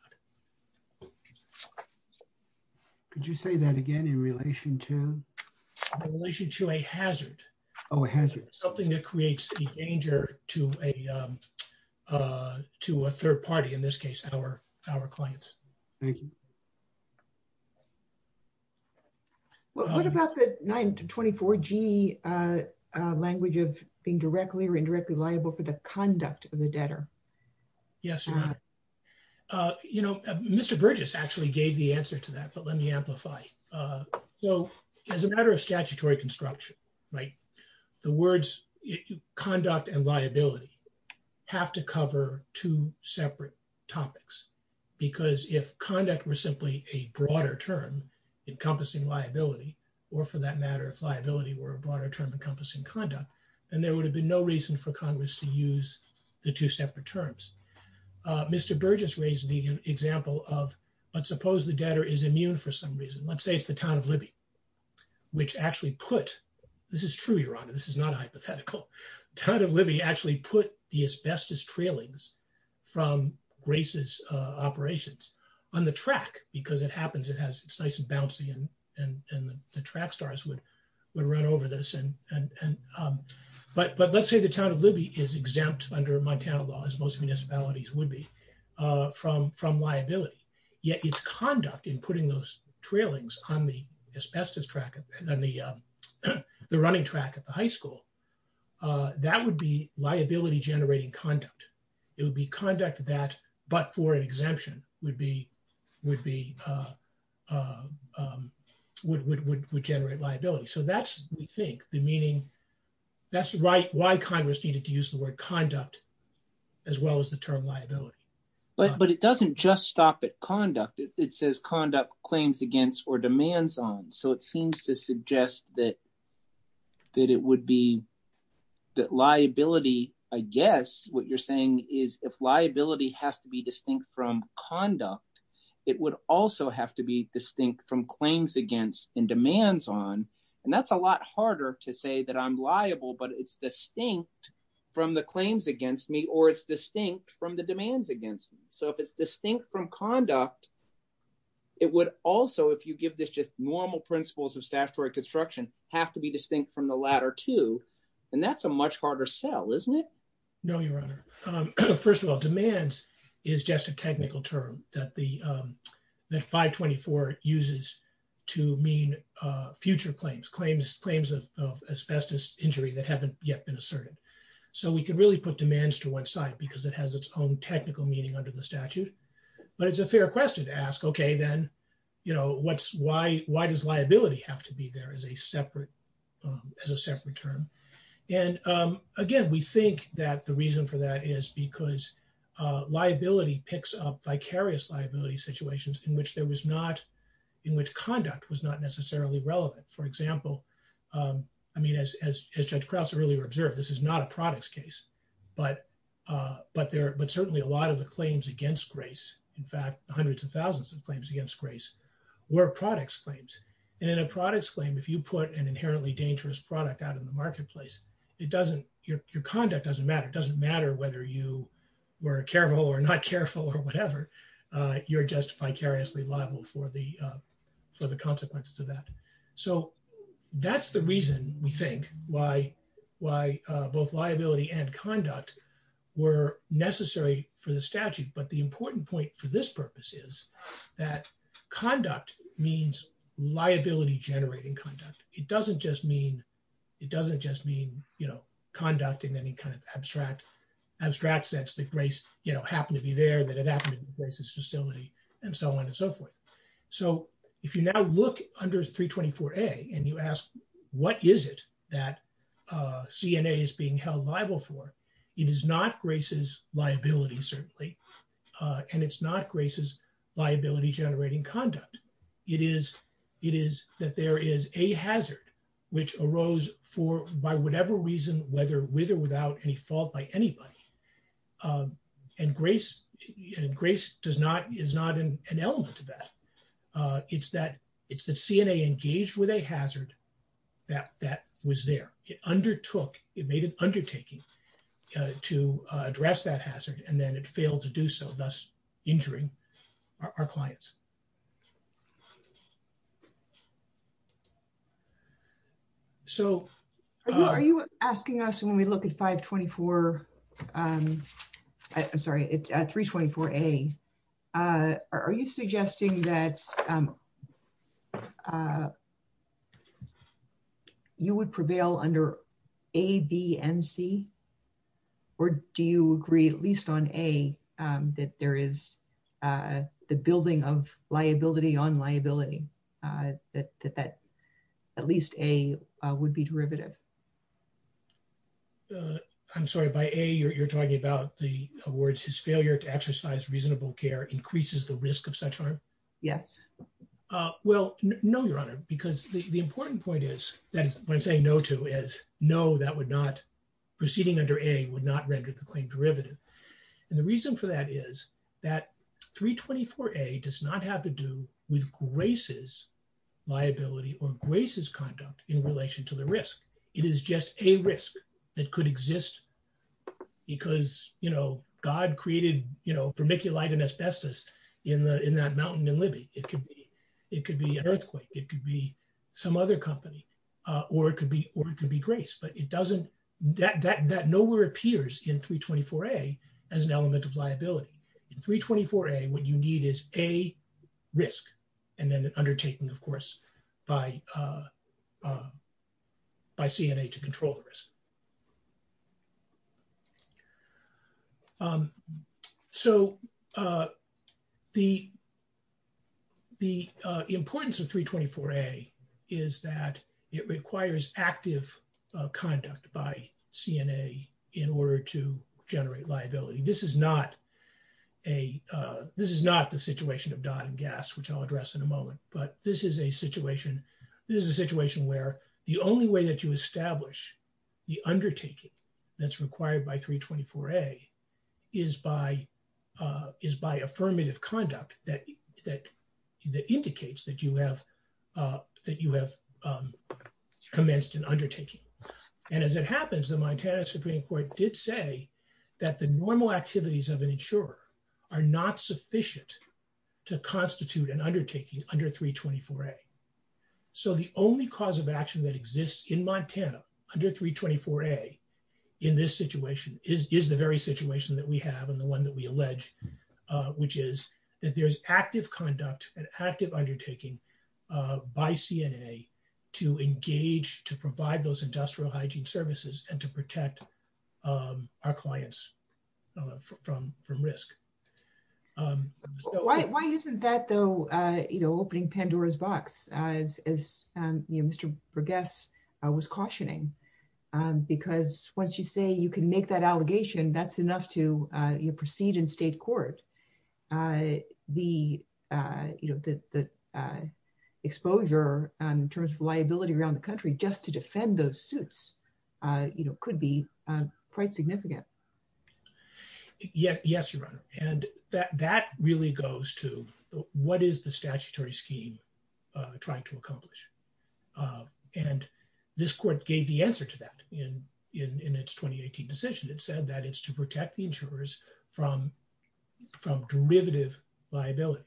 Could you say that again in relation to In relation to a hazard. Oh, has it Something that creates a danger to a To a third party in this case our, our clients. What about the 924 G language of being directly or indirectly liable for the conduct of the debtor. Yes. You know, Mr. Bridges actually gave the answer to that. But let me amplify. So as a matter of statutory construction, right, the words conduct and liability. Have to cover two separate topics because if conduct was simply a broader term encompassing liability or for that matter of liability or a broader term encompassing conduct and there would have been no reason for Congress to use the two separate terms. Mr. Burgess raised the example of let's suppose the debtor is immune for some reason. Let's say it's the town of Libby. Which actually put this is true. You're on. This is not a hypothetical kind of Libby actually put the asbestos trailings from racist operations on the track because it happens. It has nice and bouncy and and the track stars would run over this and But, but let's say the town of Libby is exempt under Montana law as most municipalities would be from from liability. Yet it's conduct in putting those trailings on the asbestos track and then the Running track at the high school. That would be liability generating conduct, it would be conduct that but for exemption would be with the Would generate liability. So that's, we think the meaning. That's why why Congress needed to use the word conduct as well as the term liability. But, but it doesn't just stop at conduct. It says conduct claims against or demands on so it seems to suggest that That it would be that liability. I guess what you're saying is if liability has to be distinct from conduct. It would also have to be distinct from claims against and demands on and that's a lot harder to say that I'm liable, but it's distinct from the claims against me or it's distinct from the demands against. So if it's distinct from conduct. It would also if you give this just normal principles of statutory construction have to be distinct from the latter two and that's a much harder sell, isn't it. No, Your Honor. First of all, demands is just a technical term that the 524 uses to mean future claims claims claims of asbestos injury that haven't yet been asserted So we can really put demands to website because it has its own technical meeting under the statute, but it's a fair question to ask. Okay, then. You know what's why, why does liability have to be there as a separate as a separate term. And again, we think that the reason for that is because Liability picks up vicarious liability situations in which there was not in which conduct was not necessarily relevant. For example, I mean, as, as, as Judge Krause earlier observed, this is not a products case, but But there, but certainly a lot of the claims against grace. In fact, hundreds of thousands of claims against grace. Were products claims and a products claim. If you put an inherently dangerous product out in the marketplace. It doesn't, your conduct doesn't matter. It doesn't matter whether you Were careful or not careful or whatever. You're just vicarious reliable for the for the consequences of that. So that's the reason we think why why both liability and conduct. Were necessary for the statute. But the important point for this purpose is that conduct means liability generating conduct. It doesn't just mean It doesn't just mean, you know, conduct in any kind of abstract abstract sense that grace, you know, happened to be there, but it happens to be a facility and so on and so forth. So if you now look under 324A and you ask, what is it that CNA is being held liable for? It is not grace's liability, certainly. And it's not grace's liability generating conduct. It is, it is that there is a hazard which arose for by whatever reason, whether with or without any fault by anybody. And grace and grace does not is not an element of that. It's that it's the CNA engaged with a hazard that that was there. It undertook, it made an undertaking To address that hazard and then it failed to do so, thus injuring our clients. So, Asking us when we look at 524 Sorry, it's at 324A Are you suggesting that You would prevail under A, B, and C? Or do you agree, at least on A, that there is The building of liability on liability that that at least A would be derivative. I'm sorry, by A you're talking about the awards his failure to exercise reasonable care increases the risk of such harm. Yes. Well, no, Your Honor, because the important point is that when I say no to is no, that would not proceeding under A would not render the claim derivative. And the reason for that is that 324A does not have to do with grace's liability or grace's conduct in relation to the risk. It is just a risk that could exist. Because, you know, God created, you know, vermiculite and asbestos in that mountain in Libby. It could be, it could be an earthquake. It could be some other company. Or it could be, or it could be grace, but it doesn't, that nowhere appears in 324A as an element of liability. In 324A what you need is A, risk and then undertaking, of course, by By CNA to control risk. So, The The importance of 324A is that it requires active conduct by CNA in order to generate liability. This is not a This is not the situation of Dodd and Gass, which I'll address in a moment, but this is a situation. This is a situation where the only way that you establish the undertaking that's required by 324A is by Is by affirmative conduct that indicates that you have Commenced an undertaking. And as it happens, the Montana Supreme Court did say that the normal activities of an insurer are not sufficient to constitute an undertaking under 324A. So the only cause of action that exists in Montana under 324A in this situation is the very situation that we have and the one that we allege, which is that there's active conduct and active undertaking by CNA To engage, to provide those industrial hygiene services and to protect Our clients from risk. Why isn't that, though, you know, opening Pandora's box, as Mr. Berges was cautioning, because once you say you can make that allegation, that's enough to proceed in state court. The, you know, the Exposure in terms of liability around the country just to defend those suits, you know, could be quite significant. Yes, Your Honor. And that really goes to what is the statutory scheme trying to accomplish. And this court gave the answer to that in its 2018 decision. It said that it's to protect the insurers from Derivative liability,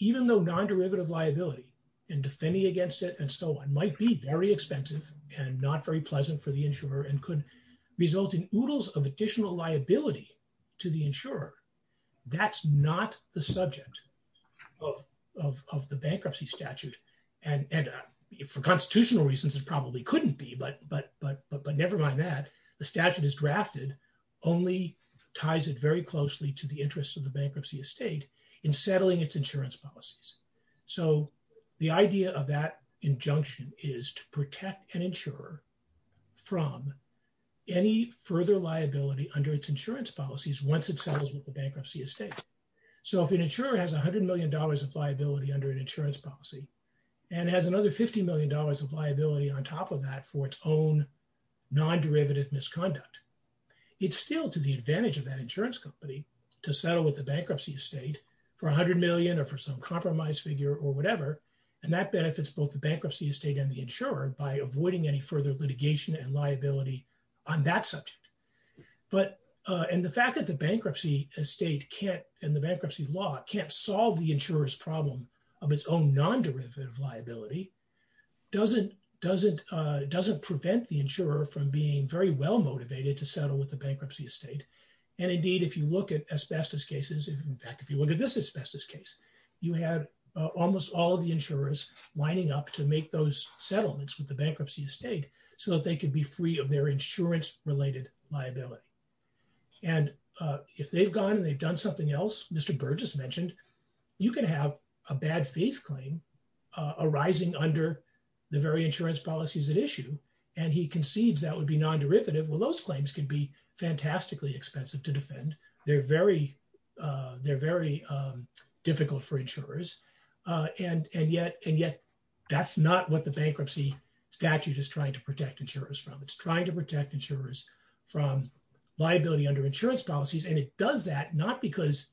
even though non derivative liability and defending against it and so on might be very expensive and not very pleasant for the insurer and could result in oodles of additional liability to the insurer. That's not the subject Of the bankruptcy statute and for constitutional reasons, it probably couldn't be. But, but, but, but nevermind that the statute is drafted. Only ties it very closely to the interest of the bankruptcy estate in settling its insurance policies. So the idea of that injunction is to protect an insurer. From any further liability under its insurance policies once it settles with the bankruptcy estate. So if an insurer has $100 million of liability under an insurance policy and has another $50 million of liability on top of that for its own Non derivative misconduct. It's still to the advantage of that insurance company to settle with the bankruptcy estate. For $100 million or for some compromise figure or whatever. And that benefits both the bankruptcy estate and the insurer by avoiding any further litigation and liability on that subject. But, and the fact that the bankruptcy estate can't, in the bankruptcy law, can't solve the insurers problem of its own non derivative liability. Doesn't, doesn't, doesn't prevent the insurer from being very well motivated to settle with the bankruptcy estate. And indeed, if you look at asbestos cases. In fact, if you look at this asbestos case, you have almost all the insurers lining up to make those settlements with the bankruptcy estate so that they can be free of their insurance related liability. And if they've gone and they've done something else. Mr. Burgess mentioned, you can have a bad faith claim arising under The very insurance policies at issue and he concedes that would be non derivative. Well, those claims can be fantastically expensive to defend. They're very They're very difficult for insurers. And, and yet, and yet that's not what the bankruptcy statute is trying to protect insurers from. It's trying to protect insurers from Liability under insurance policies and it does that, not because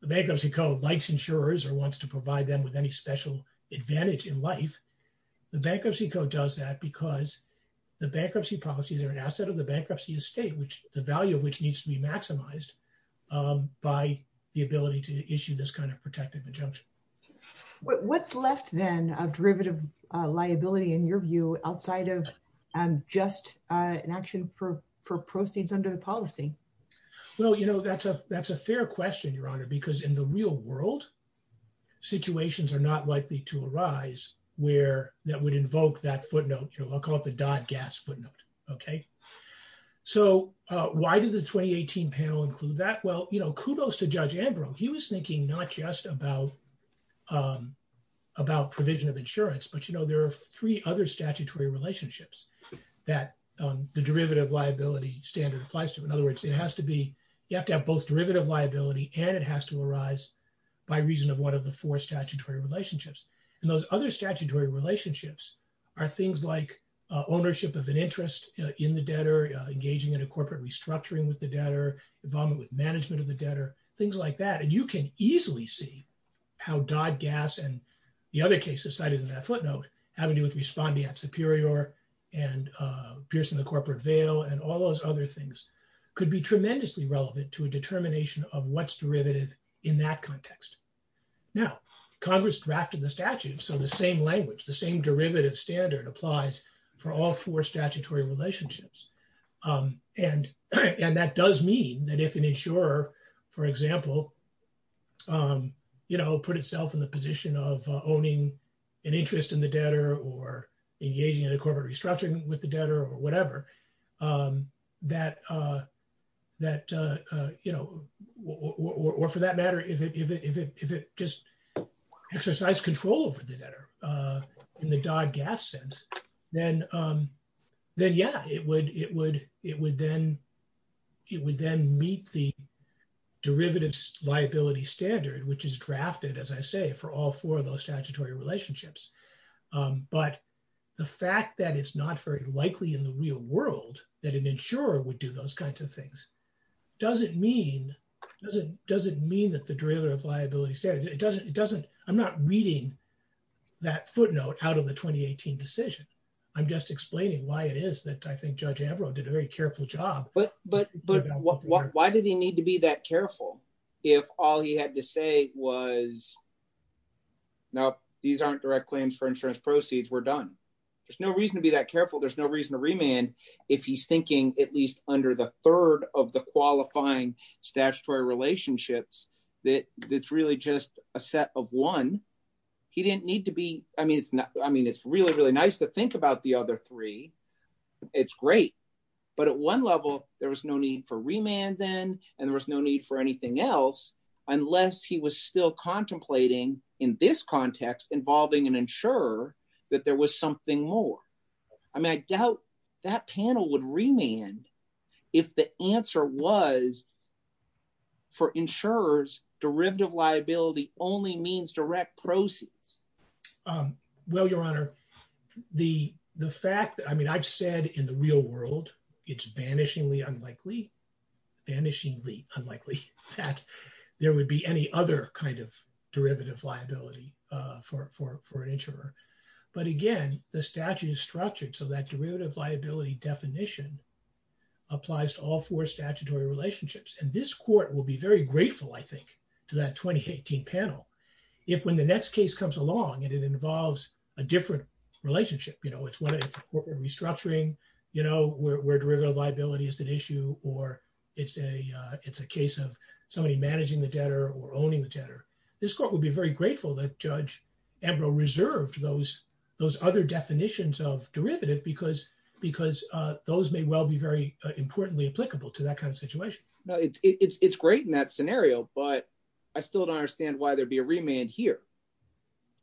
the Bankruptcy Code likes insurers or wants to provide them with any special advantage in life. The Bankruptcy Code does that because the bankruptcy policies are an asset of the bankruptcy estate, which the value of which needs to be maximized. By the ability to issue this kind of protective injunction. What's left then a derivative liability, in your view, outside of just an action for proceeds under the policy. Well, you know, that's a, that's a fair question, Your Honor, because in the real world situations are not likely to arise where that would invoke that footnote. I'll call it the Dodd-Gass footnote. Okay, so why did the 2018 panel include that? Well, you know, kudos to Judge Ambrose. He was thinking not just about About provision of insurance, but, you know, there are three other statutory relationships. That the derivative liability standard applies to. In other words, it has to be, you have to have both derivative liability and it has to arise by reason of one of the four statutory relationships. And those other statutory relationships are things like ownership of an interest in the debtor, engaging in a corporate restructuring with the debtor, involvement with management of the debtor, things like that. And you can easily see how Dodd-Gass and the other cases cited in that footnote, having to do with responding at Superior and piercing the corporate veil and all those other things could be tremendously relevant to a determination of what's derivative in that context. Now, Congress drafted the statute. So the same language, the same derivative standard applies for all four statutory relationships. And that does mean that if an insurer, for example, you know, put itself in the position of owning an interest in the debtor or engaging in a corporate restructuring with the debtor or whatever, that, you know, or for that matter, if it just exercised control over the debtor in the Dodd-Gass sense, then yeah, it would then meet the standards of the world that an insurer would do those kinds of things. Does it mean, does it mean that the derivative liability standard, it doesn't, it doesn't, I'm not reading that footnote out of the 2018 decision. I'm just explaining why it is that I think Judge Ambrose did a very careful job. But, but, but why did he need to be that careful if all he had to say was, Nope, these aren't direct claims for insurance proceeds. We're done. There's no reason to be that careful. There's no reason to remand if he's thinking at least under the third of the qualifying statutory relationships that it's really just a set of one. He didn't need to be, I mean, it's not, I mean, it's really, really nice to think about the other three. It's great. But at one level, there was no need for remand then, and there was no need for anything else, unless he was still contemplating in this context involving an insurer that there was something more. I mean, I doubt that panel would remand if the answer was for insurers, derivative liability only means direct proceeds. Um, well, Your Honor, the, the fact that, I mean, I've said in the real world, it's vanishingly unlikely, vanishingly unlikely that there would be any other kind of derivative liability for, for, for an insurer. But again, the statute is structured so that derivative liability definition applies to all four statutory relationships. And this Court will be very grateful, I think, to that 2018 panel if, when the next case comes along and it involves a different relationship, you know, it's one of, we're restructuring, you know, where derivative liability is an issue or it's a, it's a case of somebody managing the debtor or owning the debtor. This Court will be very grateful that Judge Edrow reserved those, those other definitions of derivative because, because those may well be very importantly applicable to that kind of situation. No, it's great in that scenario, but I still don't understand why there'd be a remand here.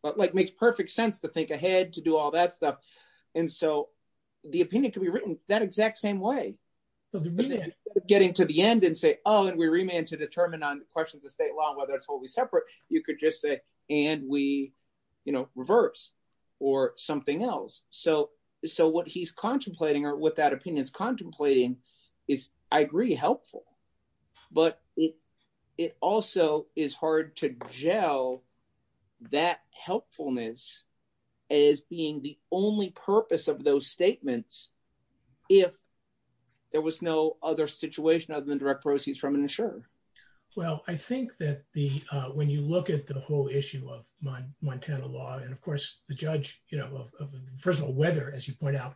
But, like, makes perfect sense to think ahead, to do all that stuff. And so the opinion can be written that exact same way. Getting to the end and say, oh, and we remand to determine on questions of state law, whether it's totally separate, you could just say, and we, you know, reverse or something else. So, so what he's contemplating or what that opinion is contemplating is, I agree, helpful, but it also is hard to gel that helpfulness as being the only purpose of those statements if there was no other situation other than direct proceeds from an insurer. Well, I think that the, when you look at the whole issue of Montana law and, of course, the judge, you know, first of all, whether, as you point out,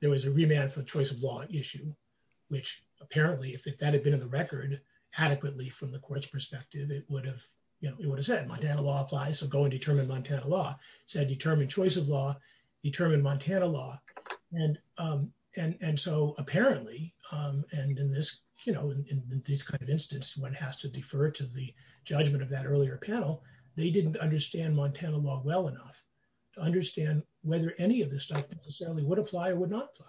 there was a remand for choice of law issue, which apparently, if that had been in the record adequately from the Court's perspective, it would have, you know, it would have said Montana law applies, so go and determine Montana law. So determine choice of law, determine Montana law. And, and so apparently, and in this, you know, in this kind of instance, one has to defer to the judgment of that earlier panel, they didn't understand Montana law well enough to understand whether any of the statements necessarily would apply or would not apply.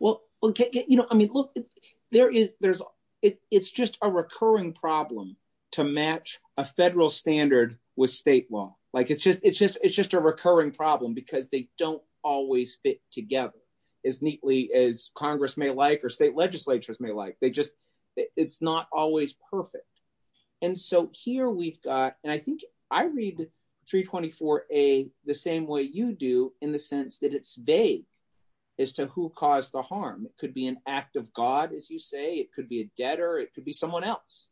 Well, okay, you know, I mean, look, there is, there's, it's just a recurring problem to match a federal standard with state law. Like it's just, it's just, it's just a recurring problem because they don't always fit together as neatly as Congress may like or state legislatures may like. They just, it's not always perfect. And so here we've got, and I think I read 324A the same way you do, in the sense that it's vague as to who caused the harm. It could be an act of God, as you say, it could be a debtor, it could be someone else.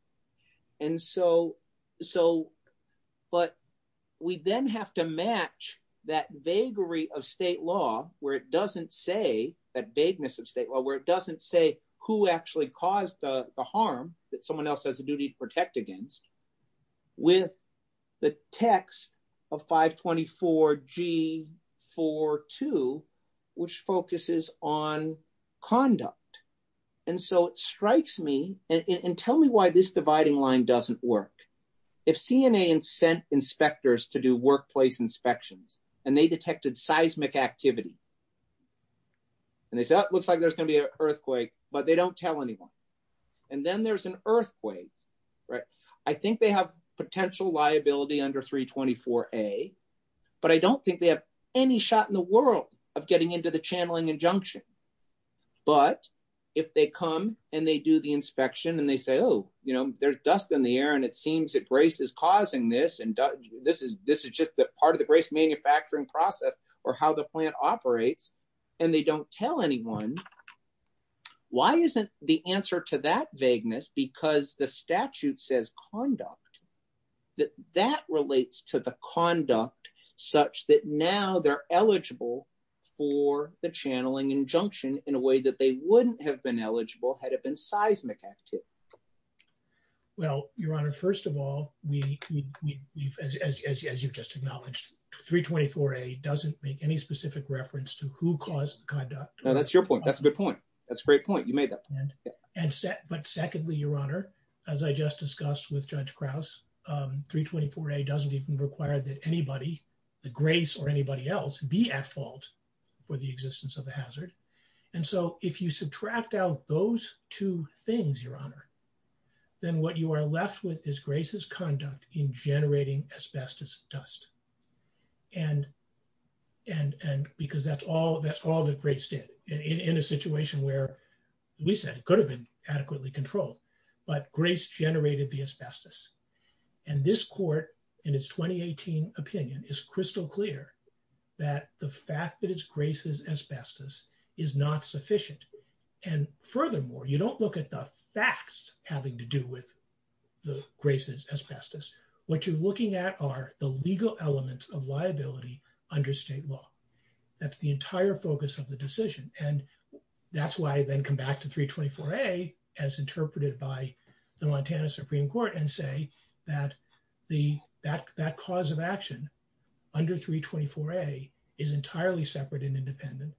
And so, so, but we then have to match that vaguery of state law where it doesn't say, that vagueness of state law, where it doesn't say who actually caused the harm that someone else has a duty to protect against with the text of 524G42, which focuses on conduct. And so it strikes me, and tell me why this dividing line doesn't work. If CNA sent inspectors to do workplace inspections and they detected seismic activity, and they said, that looks like there's going to be an earthquake, but they don't tell anyone. And then there's an earthquake, right? I think they have potential liability under 324A, but I don't think they have any shot in the world of getting into the channeling and junction. But if they come and they do the inspection and they say, oh, you know, there's dust in the air and it seems that Grace is causing this and this is, this is just that part of the Grace manufacturing process or how the plant operates, and they don't tell anyone. Why isn't the answer to that vagueness? Because the statute says conduct, that that relates to the conduct such that now they're eligible for the channeling and junction in a way that they wouldn't have been eligible had it been seismic activity. Well, Your Honor, first of all, we, as you've just acknowledged, 324A doesn't make any specific reference to who caused the conduct. Now that's your point. That's a good point. That's a great point. You made that point. And secondly, Your Honor, as I just discussed with Judge Krause, 324A doesn't even require that anybody, the Grace or anybody else, be at fault for the existence of the hazard. And so if you subtract out those two things, Your Honor, then what you are left with is Grace's conduct in generating asbestos dust. And, and, and because that's all, that's all that Grace did in a situation where we said could have been adequately controlled, but Grace generated the asbestos. And this Court, in its 2018 opinion, is crystal clear that the fact that it's Grace's asbestos is not sufficient. And furthermore, you don't look at the facts having to do with the Grace's asbestos. What you're looking at are the legal elements of liability under state law. That's the entire focus of the decision and that's why I then come back to 324A as interpreted by the Montana Supreme Court and say that the, that, that cause of action under 324A is entirely separate and independent,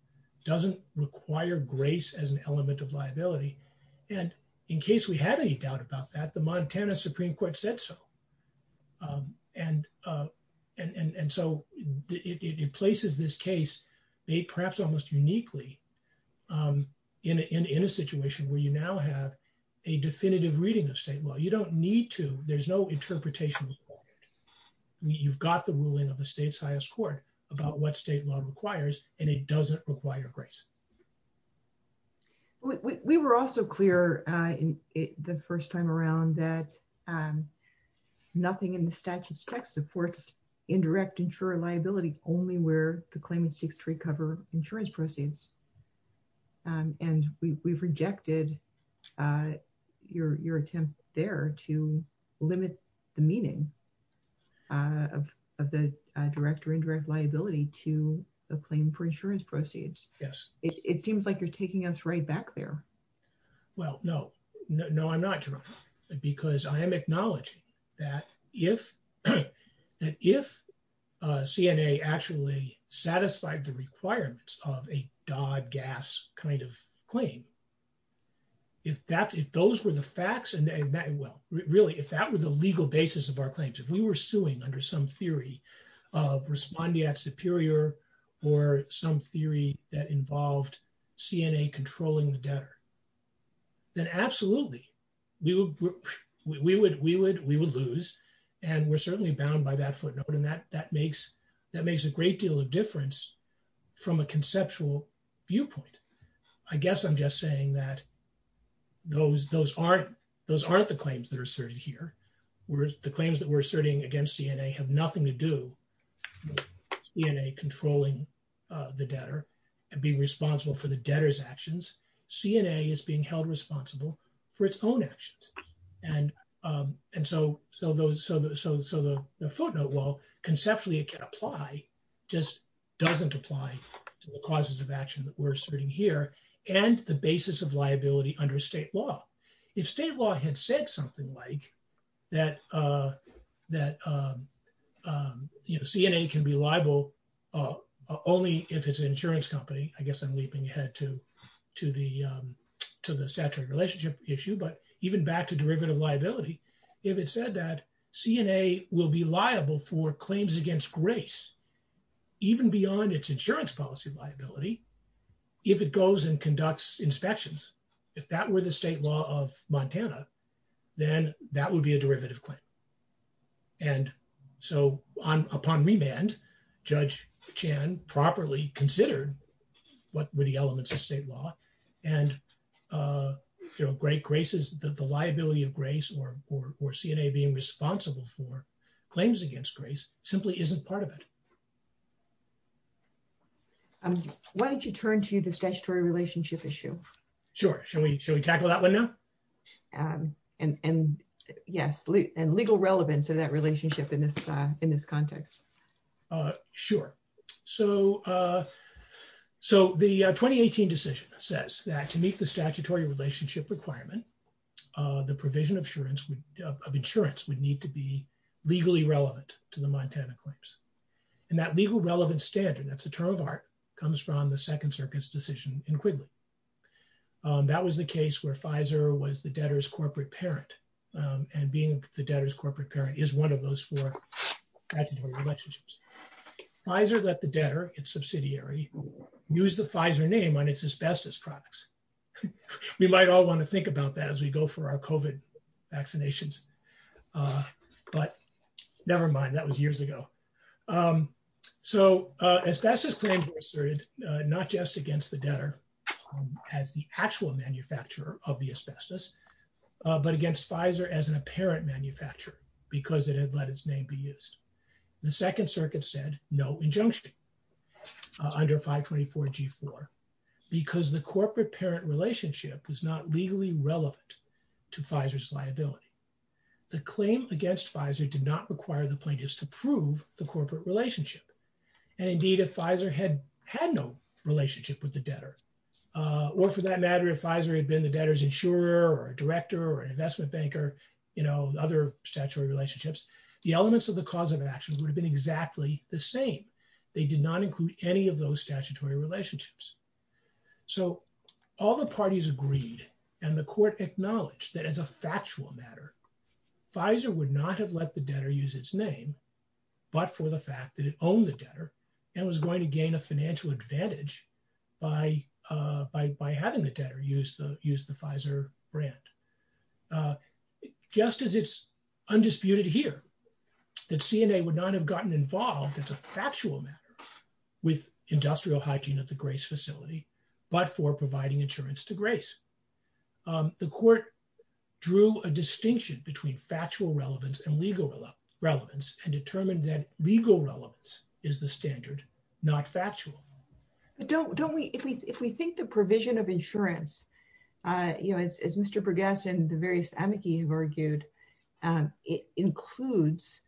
doesn't require Grace as an element of liability. And in case we have any doubt about that, the Montana Supreme Court said so. And, and so it places this case, perhaps almost uniquely in a situation where you now have a definitive reading of state law. You don't need to, there's no interpretation required. You've got the ruling of the state's highest court about what state law requires and it doesn't require Grace. We were also clear the first time around that nothing in the statute's text supports indirect insurer liability only where the claimant seeks to recover insurance proceeds. And we've rejected your attempt there to limit the meaning of the direct or indirect liability to a claim for insurance proceeds. Yes. It seems like you're taking us right back there. Well, no, no, I'm not, because I am acknowledging that if that if CNA actually satisfied the requirements of a Dodd-Gass kind of claim, if that, if those were the facts and they met, well, really, if that were the legal basis of our claims, if we were suing under some theory of respondeat superior or some theory that involved CNA controlling the debtor, then absolutely we would, we would, we would, we will lose. And we're certainly bound by that footnote. And that, that makes, that makes a great deal of difference from a conceptual viewpoint. I guess I'm just saying that those, those aren't, those aren't the claims that are asserted here. The claims that we're asserting against CNA have nothing to do with CNA controlling the debtor and being responsible for the debtor's actions. CNA is being held responsible for its own actions. And, and so, so those, so, so, so the footnote, well, conceptually it can apply, just doesn't apply to the causes of action that we're asserting here and the basis of liability under state law. If state law had said something like that, that you know, CNA can be liable only if it's an insurance company. I guess I'm leaping ahead to, to the, to the statutory relationship issue, but even back to derivative liability. If it said that CNA will be liable for claims against grace, even beyond its insurance policy liability, if it goes and conducts inspections, if that were the state law of Montana, then that would be a derivative claim. And so, upon remand, Judge Chan properly considered what were the elements of state law and great graces, the liability of grace or, or, or CNA being responsible for claims against grace simply isn't part of it. Why don't you turn to the statutory relationship issue? Sure. Shall we, shall we tackle that one now? And, and yes, and legal relevance in that relationship in this, in this context. Sure. So, so the 2018 decision says that to meet the statutory relationship requirement, the provision of insurance, of insurance would need to be legally relevant to the Montana claims. And that legal relevance standard, that's the term of art, comes from the Second Circuit's decision in Quigley. That was the case where Pfizer was the debtor's corporate parent and being the debtor's corporate parent is one of those four statutory relationships. Pfizer let the debtor, its subsidiary, use the Pfizer name on its asbestos products. We might all want to think about that as we go for our COVID vaccinations. But nevermind, that was years ago. So asbestos claims were asserted, not just against the debtor as the actual manufacturer of the asbestos, but against Pfizer as an apparent manufacturer, because it had let its name be used. The Second Circuit said no injunction under 524 G4 because the corporate parent relationship is not legally relevant to Pfizer's liability. The claim against Pfizer did not require the plaintiffs to prove the corporate relationship. And indeed, if Pfizer had had no relationship with the debtor, or for that matter, if Pfizer had been the debtor's insurer or director or investment banker, you know, other statutory relationships, the elements of the cause of actions would have been exactly the same. They did not include any of those statutory relationships. So all the parties agreed and the court acknowledged that as a factual matter, Pfizer would not have let the debtor use its name, but for the fact that it owned the debtor and was going to gain a financial advantage by having the debtor use the Pfizer brand. Just as it's undisputed here that CNA would not have gotten involved as a factual matter with industrial hiking at the Grace facility, but for providing insurance to Grace. The court drew a distinction between factual relevance and legal relevance and determined that legal relevance is the standard, not factual. Don't we, if we think the provision of insurance, you know, as Mr. Bergeson and the various amici have argued, it includes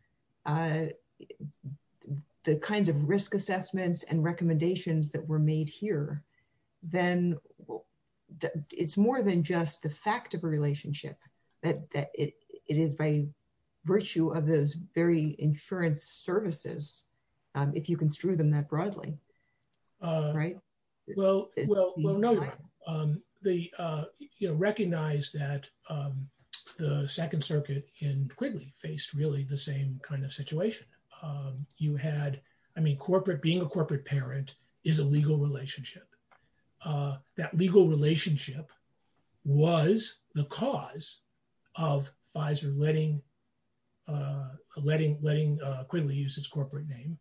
the kinds of risk assessments and recommendations that were made here, then it's more than just the fact of a relationship, that it is by virtue of those very insurance services, if you construe them that broadly. Right. Well, well, no. They recognize that the Second Circuit in Quigley faced really the same kind of situation. You had, I mean corporate, being a corporate parent is a legal relationship. That legal relationship was the cause of Pfizer letting letting Quigley use its corporate name.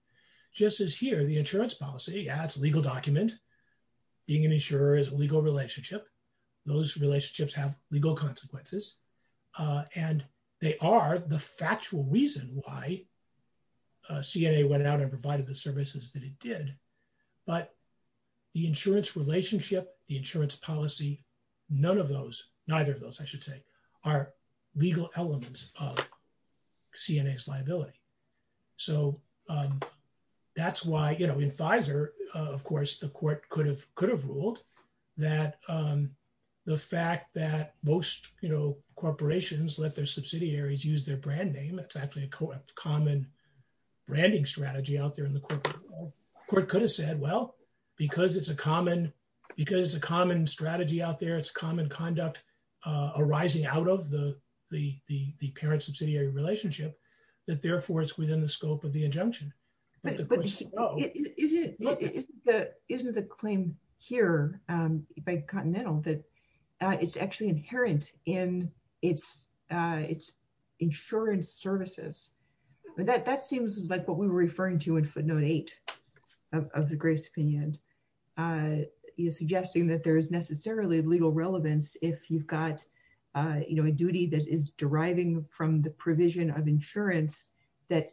Just as here, the insurance policy, yeah, it's a legal document. Being an insurer is a legal relationship. Those relationships have legal consequences and they are the factual reason why they are legal elements of C&A's liability. So that's why, you know, in Pfizer, of course, the court could have ruled that the fact that most, you know, corporations let their subsidiaries use their brand name, it's actually a common branding strategy out there in the court. The court could have said, well, because it's a common strategy out there, it's common conduct arising out of the parent-subsidiary relationship, that therefore it's within the scope of the injunction. Isn't the claim here by the Continental that it's actually inherent in its insurance services. That seems like what we were referring to in footnote eight of the Grace opinion. You're suggesting that there is necessarily legal relevance if you've got, you know, a duty that is deriving from the provision of insurance that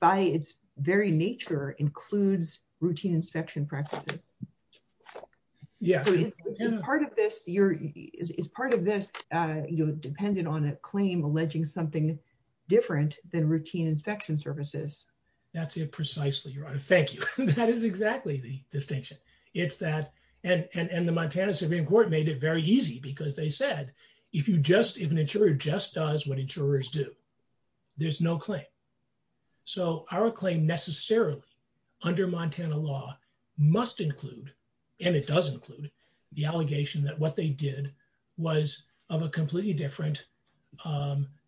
by its very nature includes routine inspection practices. Yeah. Part of this, you're, is part of this, you know, dependent on a claim alleging something different than routine inspection services. That's it precisely, Your Honor. Thank you. That is exactly the distinction. It's that, and the Montana Supreme Court made it very easy because they said, if you just, if an insurer just does what insurers do, there's no claim. So our claim necessarily under Montana law must include, and it does include, the allegation that what they did was of a completely different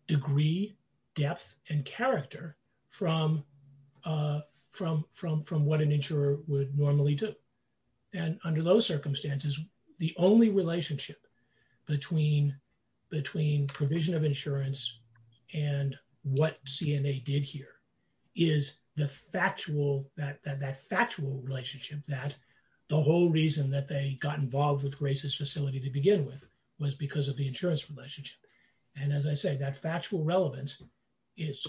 degree, depth, and character from from what an insurer would normally do. And under those circumstances, the only relationship between provision of insurance and what CNA did here is the factual, that factual relationship that the whole reason that they got involved with Grace's facility to begin with was because of the insurance relationship. And as I said, that factual relevance is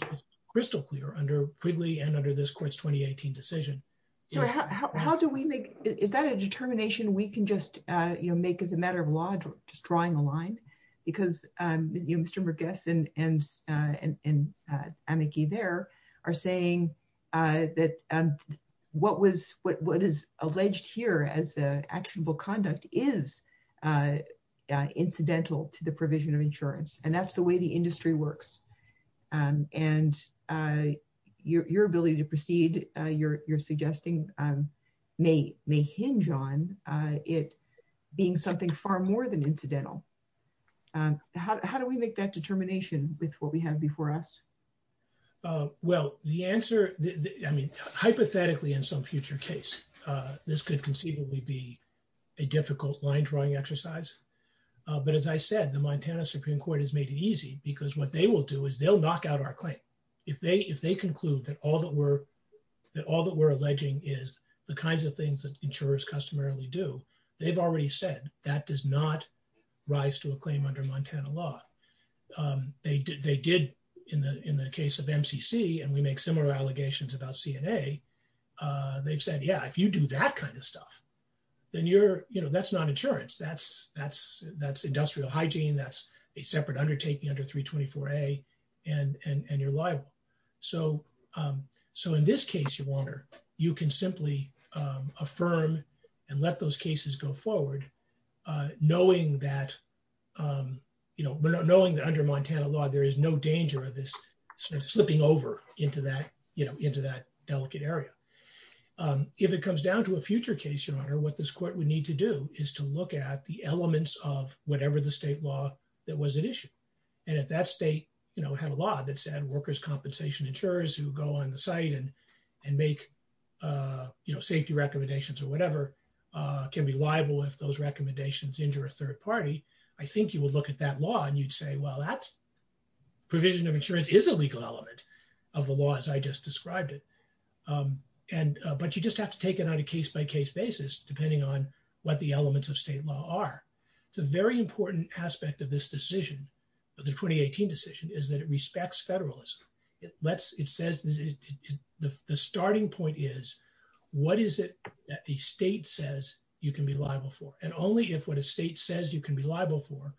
crystal clear under Quigley and under this court's 2018 decision. Yeah, how do we make, is that a determination we can just, you know, make as a matter of law, just drawing a line? Because Mr. McGuess and Anneke there are saying that what was, what is alleged here as actionable conduct is incidental to the provision of insurance. And that's the way the industry works. And your ability to proceed, you're suggesting, may hinge on it being something far more than incidental. How do we make that determination with what we have before us? Well, the answer, I mean, hypothetically, in some future case, this could conceivably be a difficult line drawing exercise. But as I said, the Montana Supreme Court has made it easy because what they will do is they'll knock out our claim. If they conclude that all that we're that all that we're alleging is the kinds of things that insurers customarily do, they've already said that does not rise to a claim under Montana law. They did, in the case of MCC, and we make similar allegations about CNA, they've said, yeah, if you do that kind of stuff, then you're, you know, that's not insurance. That's industrial hygiene. That's a separate undertaking under 324A and you're liable. So, so in this case, you can simply affirm and let those cases go forward, knowing that you know, knowing that under Montana law, there is no danger of this slipping over into that, you know, into that delicate area. If it comes down to a future case, Your Honor, what this court would need to do is to look at the elements of whatever the state law that was an issue. And if that state, you know, had a law that said workers' compensation insurers who go on the site and make you know, safety recommendations or whatever can be liable if those recommendations injure a third party, I think you will look at that law and you'd say, well, that's provision of insurance is a legal element of the law as I just described it. And, but you just have to take it on a case by case basis, depending on what the elements of state law are. It's a very important aspect of this decision, the 2018 decision, is that it respects federalism. It lets, it says, the starting point is, what is it that the state says you can be liable for? And only if what a state says you can be liable for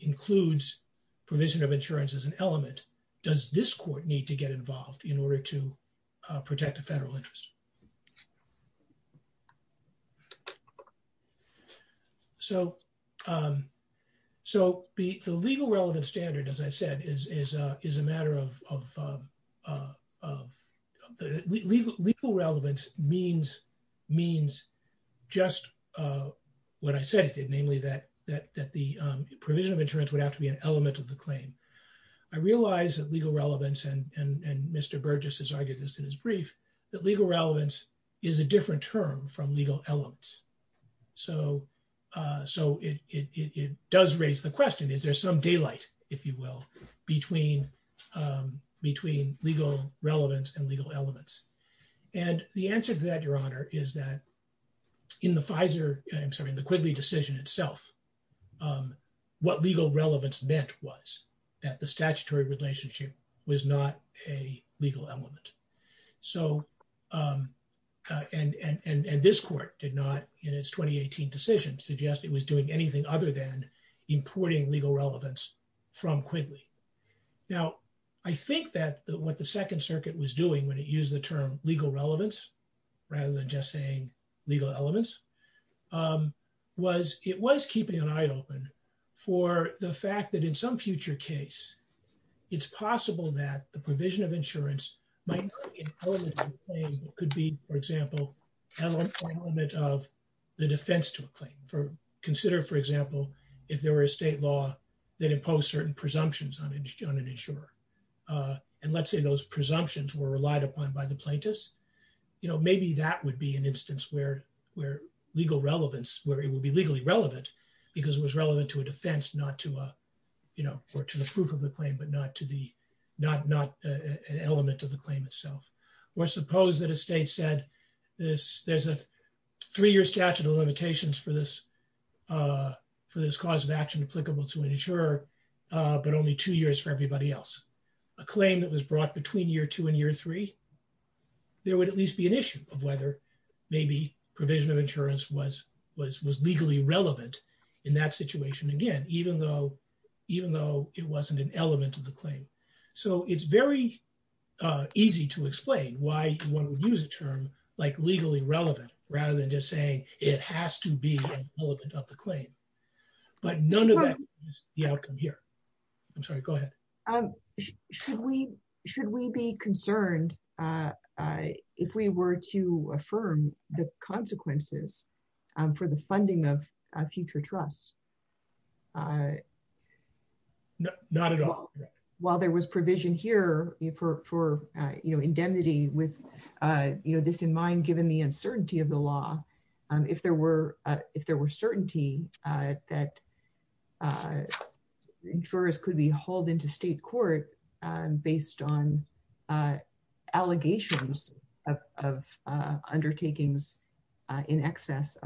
includes provision of insurance as an element, does this court need to get involved in order to protect the federal interest? So, so the legal relevance standard, as I said, is a matter of legal relevance means just what I said, namely that the provision of insurance would have to be an element of the claim. I realize that legal relevance and Mr. Burgess' argument in his brief, that legal relevance is a different term from legal elements. So, it does raise the question, is there some daylight, if you will, between between legal relevance and legal elements? And the answer to that, Your Honor, is that in the Pfizer, I'm sorry, the Quigley decision itself, what legal relevance meant was that the statutory relationship was not a legal element. So, and this court did not, in its 2018 decision, suggest it was doing anything other than importing legal relevance from Quigley. Now, I think that what the Second Circuit was doing when it used the term legal relevance, rather than just saying legal elements, was, it was keeping an eye open for the fact that in some future case, it's possible that the provision of insurance could be, for example, an element of the defense to a claim. Consider, for example, if there were a state law that imposed certain presumptions on an insurer. And let's say those presumptions were relied upon by the plaintiffs, you know, maybe that would be an instance where legal relevance, where it would be legally relevant because it was relevant to a defense, not to a, you know, or to the proof of the claim, but not to the, not an element of the claim itself. Or suppose that a state said this, there's a three year statute of limitations for this for this cause of action applicable to an insurer, but only two years for everybody else. A claim that was brought between year two and year three, there would at least be an issue of whether maybe provision of insurance was legally relevant in that situation. Again, even though, even though it wasn't an element of the claim. So it's very easy to explain why one would use a term like legally relevant, rather than just saying it has to be an element of the claim. But none of that is the outcome here. I'm sorry, go ahead. Um, should we, should we be concerned if we were to affirm the consequences for the funding of future trusts? Not at all. While there was provision here for, you know, indemnity with, you know, this in mind, given the uncertainty of the law, if there were, if there were certainty that insurers could be hauled into state court based on allegations of undertakings in excess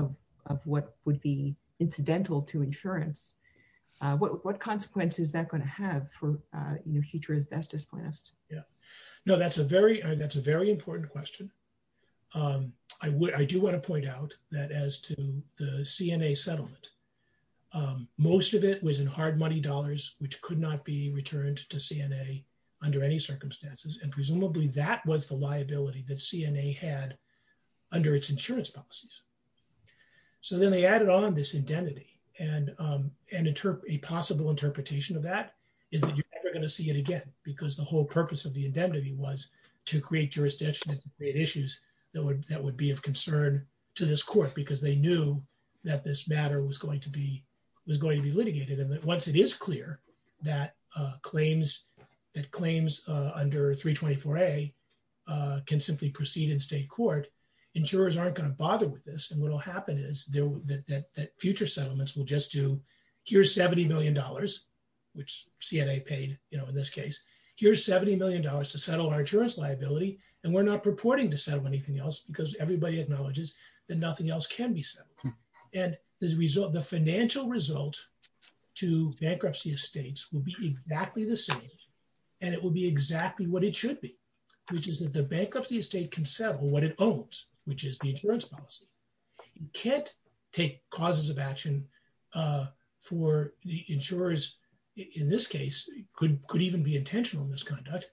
of what would be incidental to insurance, what consequence is that going to have for future investors plans? Yeah, no, that's a very, that's a very important question. I would, I do want to point out that as to the CNA settlement, most of it was in hard money dollars, which could not be returned to CNA under any circumstances, and presumably that was the liability that CNA had under its insurance policies. So then they added on this indemnity and a possible interpretation of that is that you're never going to see it again, because the whole purpose of the indemnity was to create jurisdictions and create issues that would, that would be of concern to this court because they knew that this matter was going to be, was going to be litigated. And once it is clear that claims, that claims under 324A can simply proceed in state court, insurers aren't going to bother with this. And what will happen is that future settlements will just do, here's $70 million, which CNA paid, you know, in this case, here's $70 million to settle our insurance liability, and we're not purporting to settle anything else because everybody acknowledges that nothing else can be settled. And the financial result to bankruptcy estates will be exactly the same, and it will be exactly what it should be, which is that the bankruptcy estate can settle what it owns, which is the insurance policy. You can't take causes of action for the insurers, in this case, could even be intentional misconduct,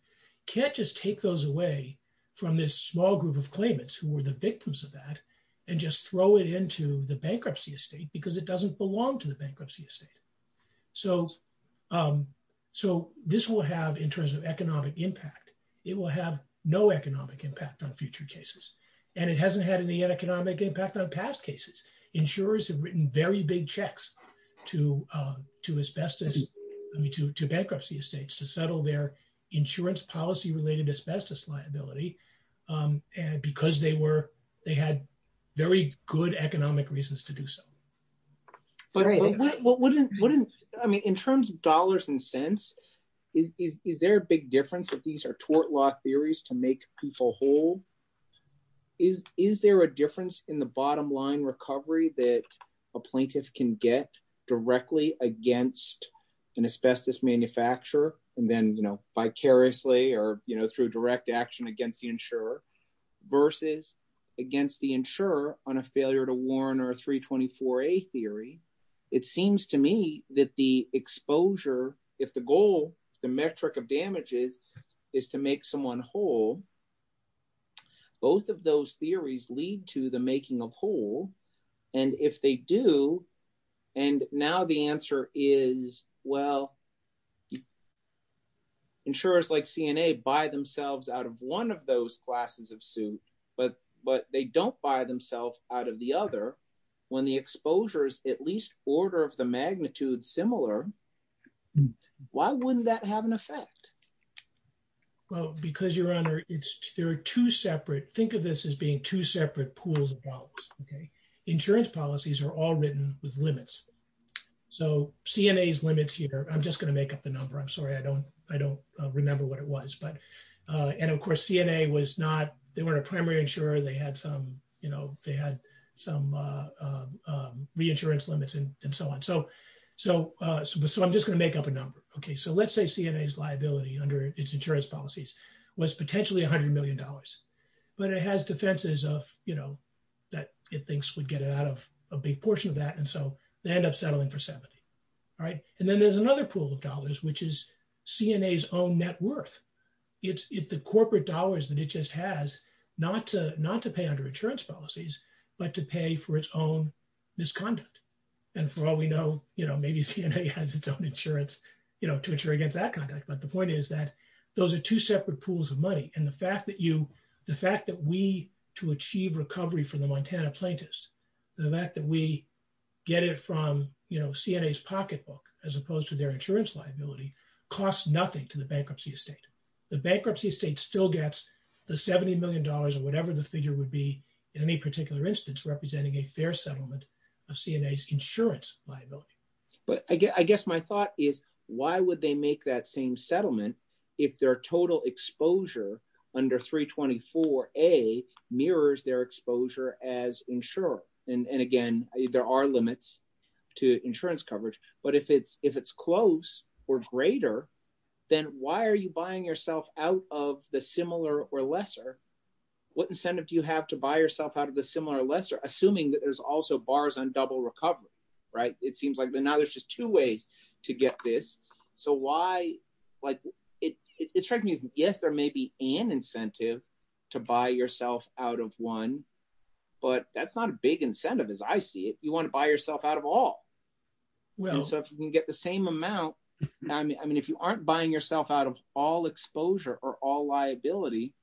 can't just take those away from this small group of claimants who were the victims of that and just throw it into the bankruptcy estate because it doesn't belong to the bankruptcy estate. So, so this will have, in terms of economic impact, it will have no economic impact on future cases, and it hasn't had any economic impact on past cases. Insurers have written very big checks to to bankruptcy estates to settle their insurance policy related asbestos liability, and because they were, they had very good economic reasons to do so. But I mean, in terms of dollars and cents, is there a big difference that these are tort law theories to make people whole? Is there a difference in the bottom line recovery that a plaintiff can get directly against an asbestos manufacturer and then, you know, vicariously or, you know, through direct action against the insurer versus against the insurer on a failure to warn or a 324A theory? It seems to me that the exposure, if the goal, the metric of damages, is to make someone whole, both of those theories lead to the making of whole, and if they do, and now the answer is, well, insurers like CNA buy themselves out of one of those glasses of soot, but they don't buy themselves out of the other. When the exposure is at least order of the magnitude similar, why wouldn't that have an effect? Well, because, Your Honor, it's, there are two separate, think of this as being two separate pools of dollars, okay? Insurance policies are all written with limits. So CNA's limits here, I'm just going to make up the number, I'm sorry, I don't remember what it was, but, and of course, CNA was not, they weren't a primary insurer, they had some, you know, they had some reinsurance limits and so on. So I'm just going to make up a number. Okay, so let's say CNA's liability under its insurance policies was potentially $100 million, but it has defenses of, you know, that it thinks would get it out of a big portion of that, and so they end up settling for 70. All right, and then there's another pool of dollars, which is CNA's own net worth. It's the corporate dollars that it just has, not to pay under insurance policies, but to pay for its own misconduct. And for all we know, you know, maybe CNA has its own insurance, you know, to insure against that kind of thing, but the point is that those are two separate pools of money, and the fact that you, the fact that we, to achieve recovery for the Montana plaintiffs, the fact that we get it from, you know, CNA's pocketbook, as opposed to their insurance liability, costs nothing to the bankruptcy estate. The bankruptcy estate still gets the $70 million or whatever the figure would be in any particular instance representing a fair settlement of CNA's insurance liability. But I guess my thought is, why would they make that same settlement if their total exposure under 324A mirrors their exposure as insurer? And again, there are limits to insurance coverage, but if it's close or greater, then why are you buying yourself out of the similar or lesser? What incentive do you have to buy yourself out of the similar or lesser, assuming that there's also bars on double recovery, right? It seems like now there's just two ways to get this. So why, like, it strikes me as, yes, there may be an incentive to buy yourself out of one, but that's not a big incentive as I see it. You want to buy yourself out of all. So if you can get the same amount, I mean, if you aren't buying yourself out of all exposure or all liability,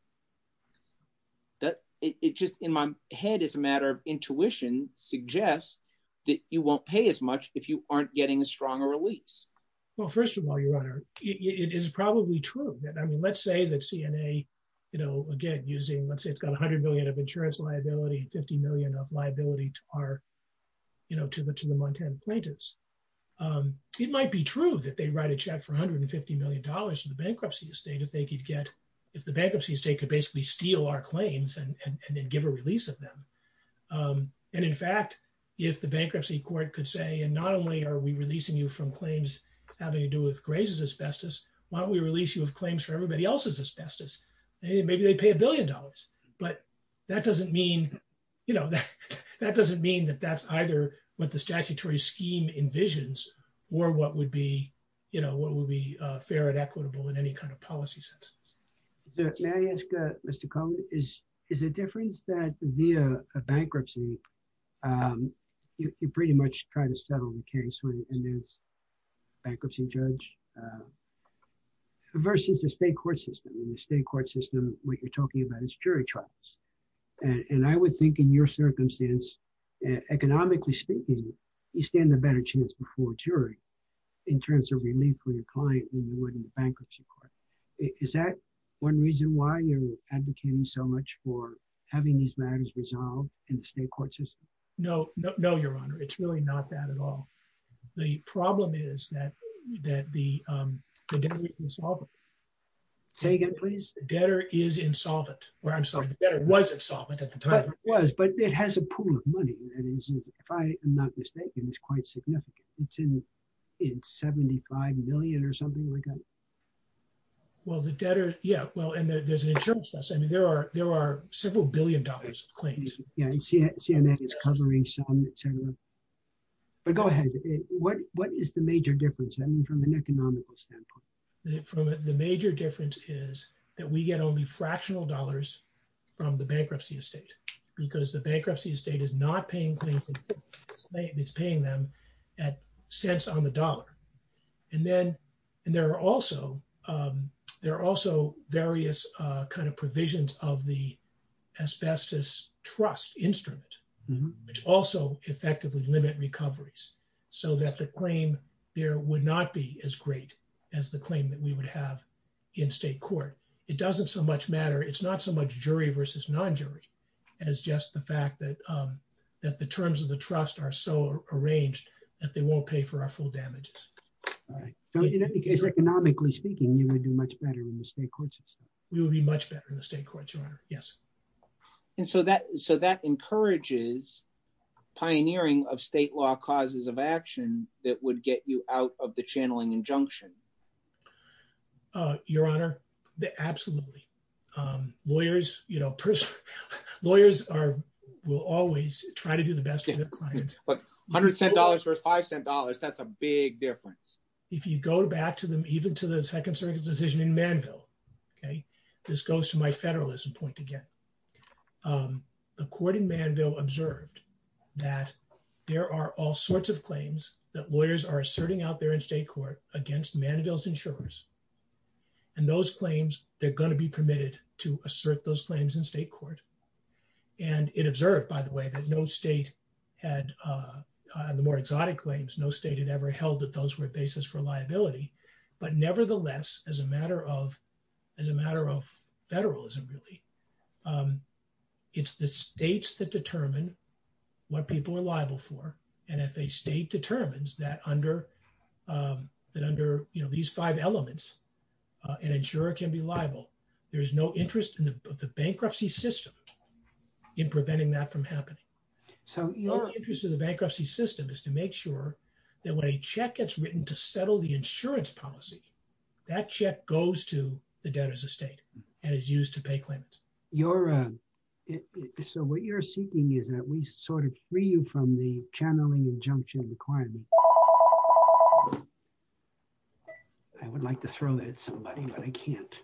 that, it just, in my head, it's a matter of intuition, suggests that you won't pay as much if you aren't getting a stronger release. Well, first of all, Your Honor, it is probably true. I mean, let's say that CNA, you know, again, using, let's say it's got $100 million of insurance liability, $50 million of liability to our, you know, to the Montana plaintiffs. It might be true that they write a check for $150 million in the bankruptcy estate if they could get, if the bankruptcy estate could basically steal our claims and then give a release of them. And in fact, if the bankruptcy court could say, and not only are we releasing you from claims having to do with Gray's asbestos, why don't we release you with claims for everybody else's asbestos? Maybe they'd pay a billion dollars, but that doesn't mean, you know, that doesn't mean that that's either what the statutory scheme envisions or what would be, you know, what would be fair and equitable in any kind of policy sense. May I ask, Mr. Cohen, is the difference that via a bankruptcy, you pretty much try to settle the case in this bankruptcy judge versus the state court system? In the state court system, what you're talking about is jury trials. And I would think, in your circumstance, economically speaking, you stand a better chance before a jury in terms of relief for your client than you would in a bankruptcy court. Is that one reason why you're advocating so much for having these matters resolved in the state court system? No, no, no, Your Honor. It's really not that at all. The problem is that the debtor is insolvent. Say again, please. The debtor is insolvent. Or I'm sorry, the debtor wasn't insolvent at the time. It was, but it has a pool of money. If I'm not mistaken, it's quite significant. It's $75 million or something like that. Well, the debtor, yeah. Well, and there's insurance costs. I mean, there are several billion dollars in claims. Yeah, and CNN is covering some, et cetera. But go ahead. What is the major difference, I mean, from an economical standpoint? The major difference is that we get only fractional dollars from the bankruptcy estate because the bankruptcy estate is not paying claims, it's paying them at cents on the dollar. And then there are also various kind of provisions of the asbestos trust instrument, which also effectively limit recoveries so that the claim there would not be as great as the claim that we would have in state court. It doesn't so much matter. It's not so much jury versus non-jury as just the fact that that the terms of the trust are so arranged that they won't pay for our full damages. Right. So, in any case, economically speaking, you would be much better in the state court system. We would be much better in the state court, Your Honor. Yes. And so that encourages pioneering of state law causes of action that would get you out of the channeling injunction. Your Honor, absolutely. Lawyers, you know, lawyers will always try to do the best for their clients. But $100 cents versus $5 cents, that's a big difference. If you go back to them, even to the Second Circuit decision in Manville, okay, this goes to my federalism point again. The court in Manville observed that there are all sorts of claims that lawyers are asserting out there in state court against Manville's insurers. And those claims, they're going to be permitted to assert those claims in state court. And it observed, by the way, that no state had, the more exotic claims, no state had ever held that those were basis for liability. But nevertheless, as a matter of federalism, really, it's the states that determine what people are liable for. And if a state determines that under these five elements, an insurer can be liable, there's no interest in the bankruptcy system in preventing that from happening. So the only interest in the bankruptcy system is to make sure that when a check gets written to settle the insurance policy, that check goes to the debtor's estate and is used to pay claims. Your Honor, so what you're seeking is that we sort of free you from the channeling injunction requirement. I would like to throw that at somebody, but I can't.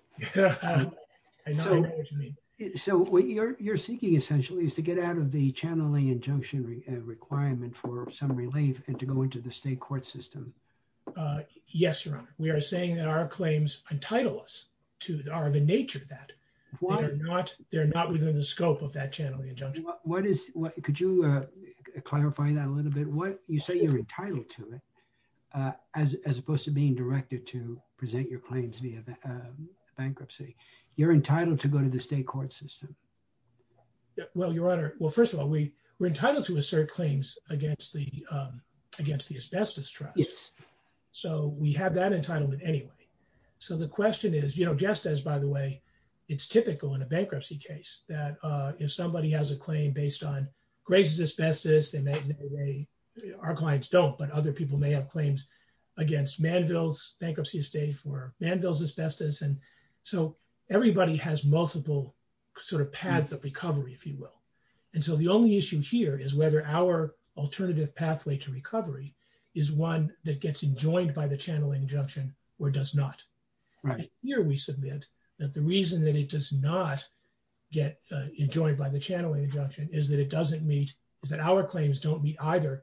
So what you're seeking essentially is to get out of the channeling injunction requirement for some relief and to go into the state court system. Yes, Your Honor. We are saying that our claims entitle us to, are the nature of that. Why? They're not within the scope of that channeling injunction. What is, could you clarify that a little bit? You say you're entitled to it. As opposed to being directed to present your claims via bankruptcy. You're entitled to go to the state court system. Well, Your Honor. Well, first of all, we were entitled to assert claims against the asbestos trust. So we have that entitlement anyway. So the question is, you know, just as, by the way, it's typical in a bankruptcy case that if somebody has a claim based on grades of asbestos, they may, our clients don't, but other people may have claims against manvils, bankruptcy of state for manvils asbestos. And so everybody has multiple sort of paths of recovery, if you will. And so the only issue here is whether our alternative pathway to recovery is one that gets enjoined by the channeling injunction or does not. Here we submit that the reason that it does not get enjoined by the channeling injunction is that it doesn't meet, that our claims don't meet either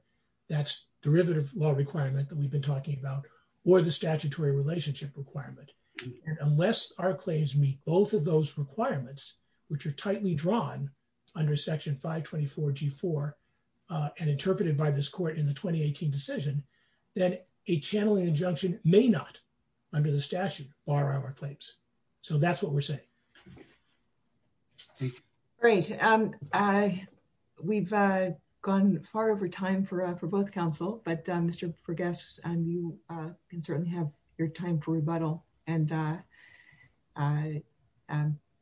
that's derivative law requirement that we've been talking about, or the statutory relationship requirement. Unless our claims meet both of those requirements, which are tightly drawn under section 524 G4 and interpreted by this court in the 2018 decision, then a channeling injunction may not under the statute bar our claims. So that's what we're saying. Great. We've gone far over time for both counsel, but Mr. Vergas, you can certainly have your time for rebuttal and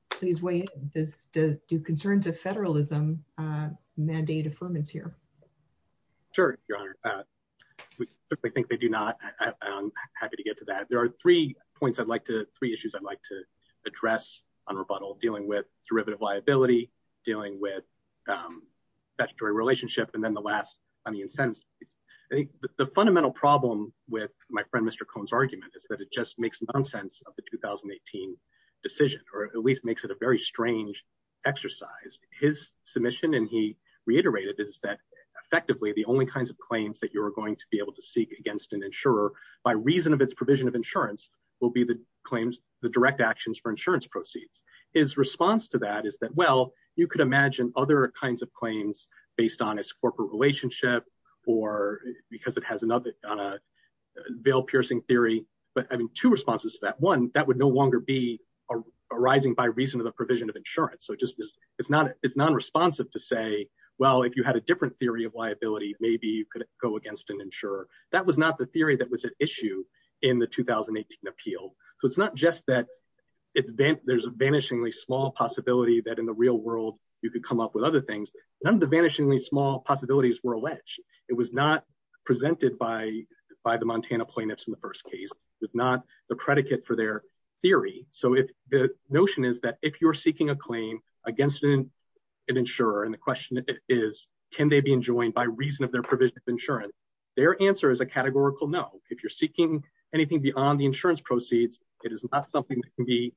please wait. Do concerns of federalism mandate affirmance here? Sure, Your Honor. I think they do not. I'm happy to get to that. There are three points I'd like to, three issues I'd like to address on rebuttal dealing with derivative liability, dealing with statutory relationship, and then the last on the incentives. I think the fundamental problem with my friend, Mr. Cohn's argument is that it just makes nonsense of how the 2018 decision, or at least makes it a very strange exercise. His submission, and he reiterated, is that effectively the only kinds of claims that you're going to be able to seek against an insurer, by reason of its provision of insurance, will be the claims, the direct actions for insurance proceeds. His response to that is that, well, you could imagine other kinds of claims based on its corporate relationship or because it has another veil-piercing theory, but having two responses to that. One, that would no longer be arising by reason of the provision of insurance. So it's non-responsive to say, well, if you had a different theory of liability, maybe you could go against an insurer. That was not the theory that was at issue in the 2018 appeal. So it's not just that there's a vanishingly small possibility that in the real world, you could come up with other things. None of the vanishingly small possibilities were alleged. It was not presented by the Montana plaintiffs in the first case. It's not the predicate for their theory. So if the notion is that if you're seeking a claim against an insurer, and the question is, can they be enjoined by reason of their provision of insurance? Their answer is a categorical no. If you're seeking anything beyond the insurance proceeds, it is not something that can be And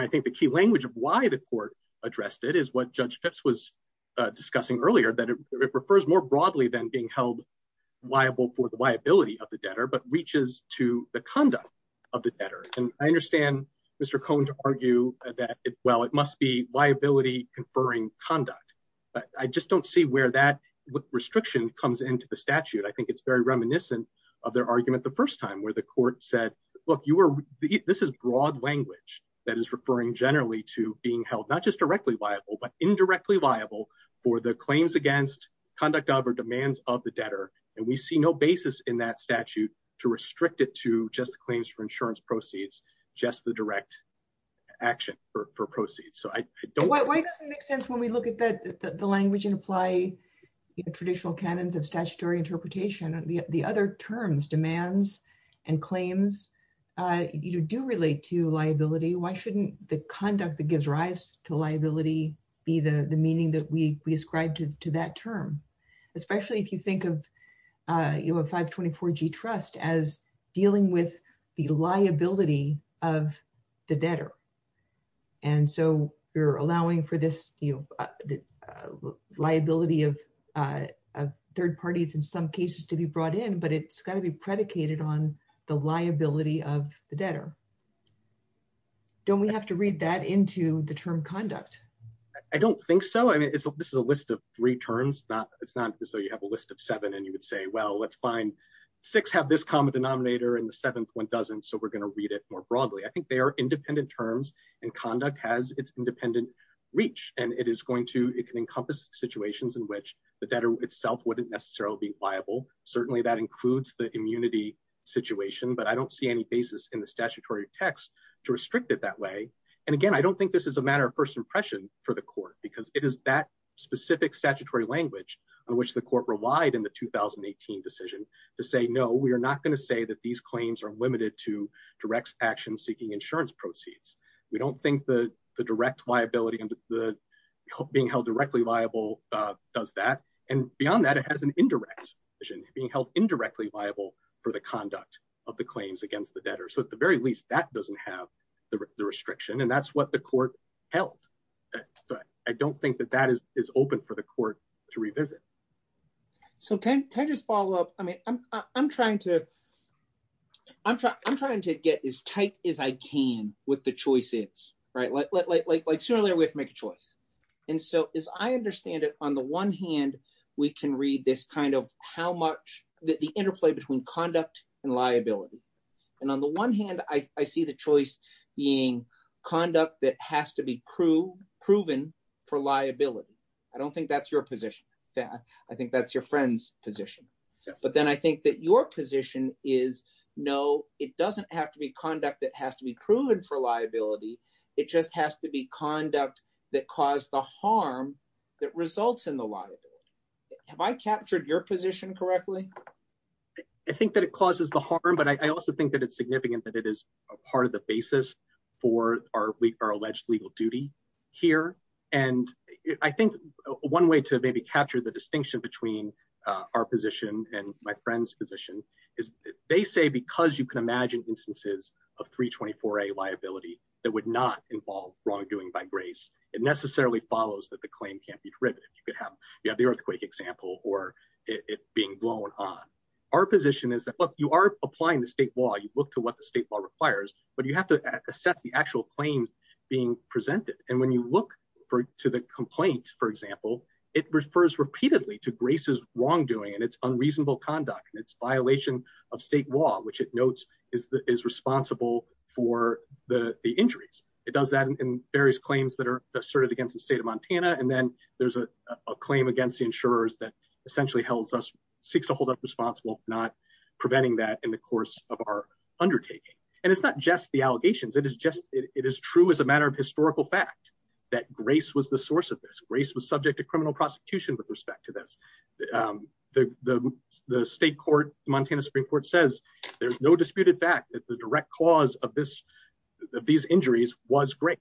I think that's the way that the court addressed it is what Judge Phipps was discussing earlier, that it refers more broadly than being held liable for the liability of the debtor, but reaches to the conduct of the debtor. And I understand Mr. Cohn's argue that, well, it must be liability conferring conduct. But I just don't see where that restriction comes into the statute. I think it's very reminiscent of their argument the first time where the court said, Look, this is broad language that is referring generally to being held, not just directly liable, but indirectly liable for the claims against conduct of or demands of the debtor. And we see no basis in that statute to restrict it to just claims for insurance proceeds, just the direct action for proceeds. Why doesn't it make sense when we look at the language and apply traditional canons of statutory interpretation, the other terms, demands and claims do relate to liability. Why shouldn't the conduct that gives rise to liability be the meaning that we ascribe to that term, especially if you think of a 524 G trust as dealing with the liability of the debtor. And so you're allowing for this, you know, liability of third parties in some cases to be brought in, but it's got to be predicated on the liability of the debtor. Don't we have to read that into the term conduct? I don't think so. I mean, this is a list of three terms. It's not so you have a list of seven and you would say, well, let's find six have this common denominator and the seventh one doesn't. So we're going to read it more broadly. I think they are independent terms and conduct has its independent reach and it is going to, it can encompass situations in which the debtor itself wouldn't necessarily be liable. Certainly that includes the immunity situation, but I don't see any basis in the statutory text to restrict it that way. And again, I don't think this is a matter of first impression for the court, because it is that specific statutory language on which the court relied in the decision to say, no, we are not going to say that these claims are limited to direct action seeking insurance proceeds. We don't think the direct liability and the being held directly liable does that. And beyond that, it has an indirect being held indirectly liable for the conduct of the claims against the debtor. So at the very least, that doesn't have the restriction. And that's what the court held. I don't think that that is open for the court to revisit. So can I just follow up. I mean, I'm trying to I'm trying to get as tight as I can with the choices, right, like surely we have to make a choice. And so, as I understand it, on the one hand, we can read this kind of how much the interplay between conduct and liability. And on the one hand, I see the choice being conduct that has to be proven for liability. I don't think that's your position. Yeah, I think that's your friend's position. But then I think that your position is, no, it doesn't have to be conduct that has to be proven for liability. It just has to be conduct that caused the harm that results in the liability. Have I captured your position correctly. I think that it causes the harm, but I also think that it's significant that it is a part of the basis for our week our alleged legal duty here and I think one way to maybe capture the distinction between our position and my friend's position is They say, because you can imagine instances of 324 a liability that would not involve wrongdoing by grace and necessarily follows that the claim can't be driven. You could have the earthquake example or It being blown on our position is that, look, you are applying the state law you look to what the state law requires, but you have to accept the actual claims. Being presented. And when you look for to the complaints, for example, it refers repeatedly to graces wrongdoing and it's unreasonable conduct and it's violation. Of state law, which it notes is responsible for the injuries. It does that in various claims that are asserted against the state of Montana and then there's a Matter of historical fact that grace was the source of this race was subject to criminal prosecution, with respect to this. The, the, the state court Montana Supreme Court says there's no disputed fact that the direct cause of this. These injuries was great.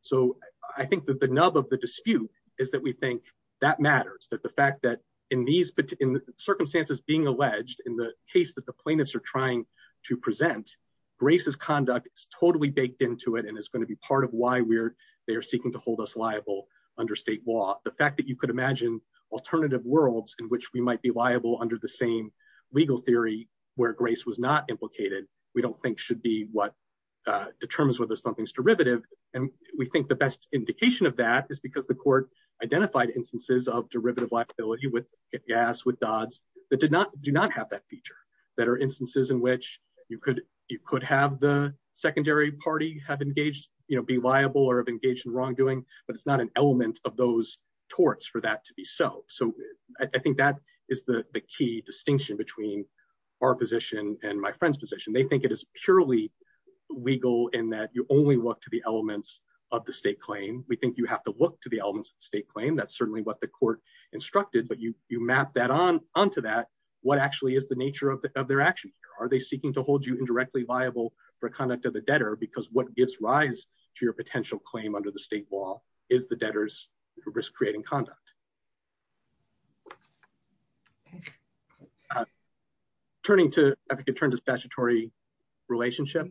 So I think that the nub of the dispute is that we think that matters that the fact that in these Circumstances being alleged in the case that the plaintiffs are trying to present Graces conduct totally baked into it and it's going to be part of why we're they're seeking to hold us liable under state law, the fact that you could imagine alternative worlds in which we might be liable under the same Legal Theory where grace was not implicated. We don't think should be what That did not do not have that feature that are instances in which you could you could have the secondary party have engaged, you know, be liable or have engaged in wrongdoing, but it's not an element of those Torts for that to be so. So I think that is the key distinction between our position and my friend's position. They think it is purely Legal in that you only look to the elements of the state claim. We think you have to look to the elements of state claim that's certainly what the court. Instructed but you you map that on onto that. What actually is the nature of their actions are they seeking to hold you indirectly viable for conduct of the debtor, because what gives rise to your potential claim under the state law is the debtors risk creating conduct. Turning to, I think, in terms of statutory relationship,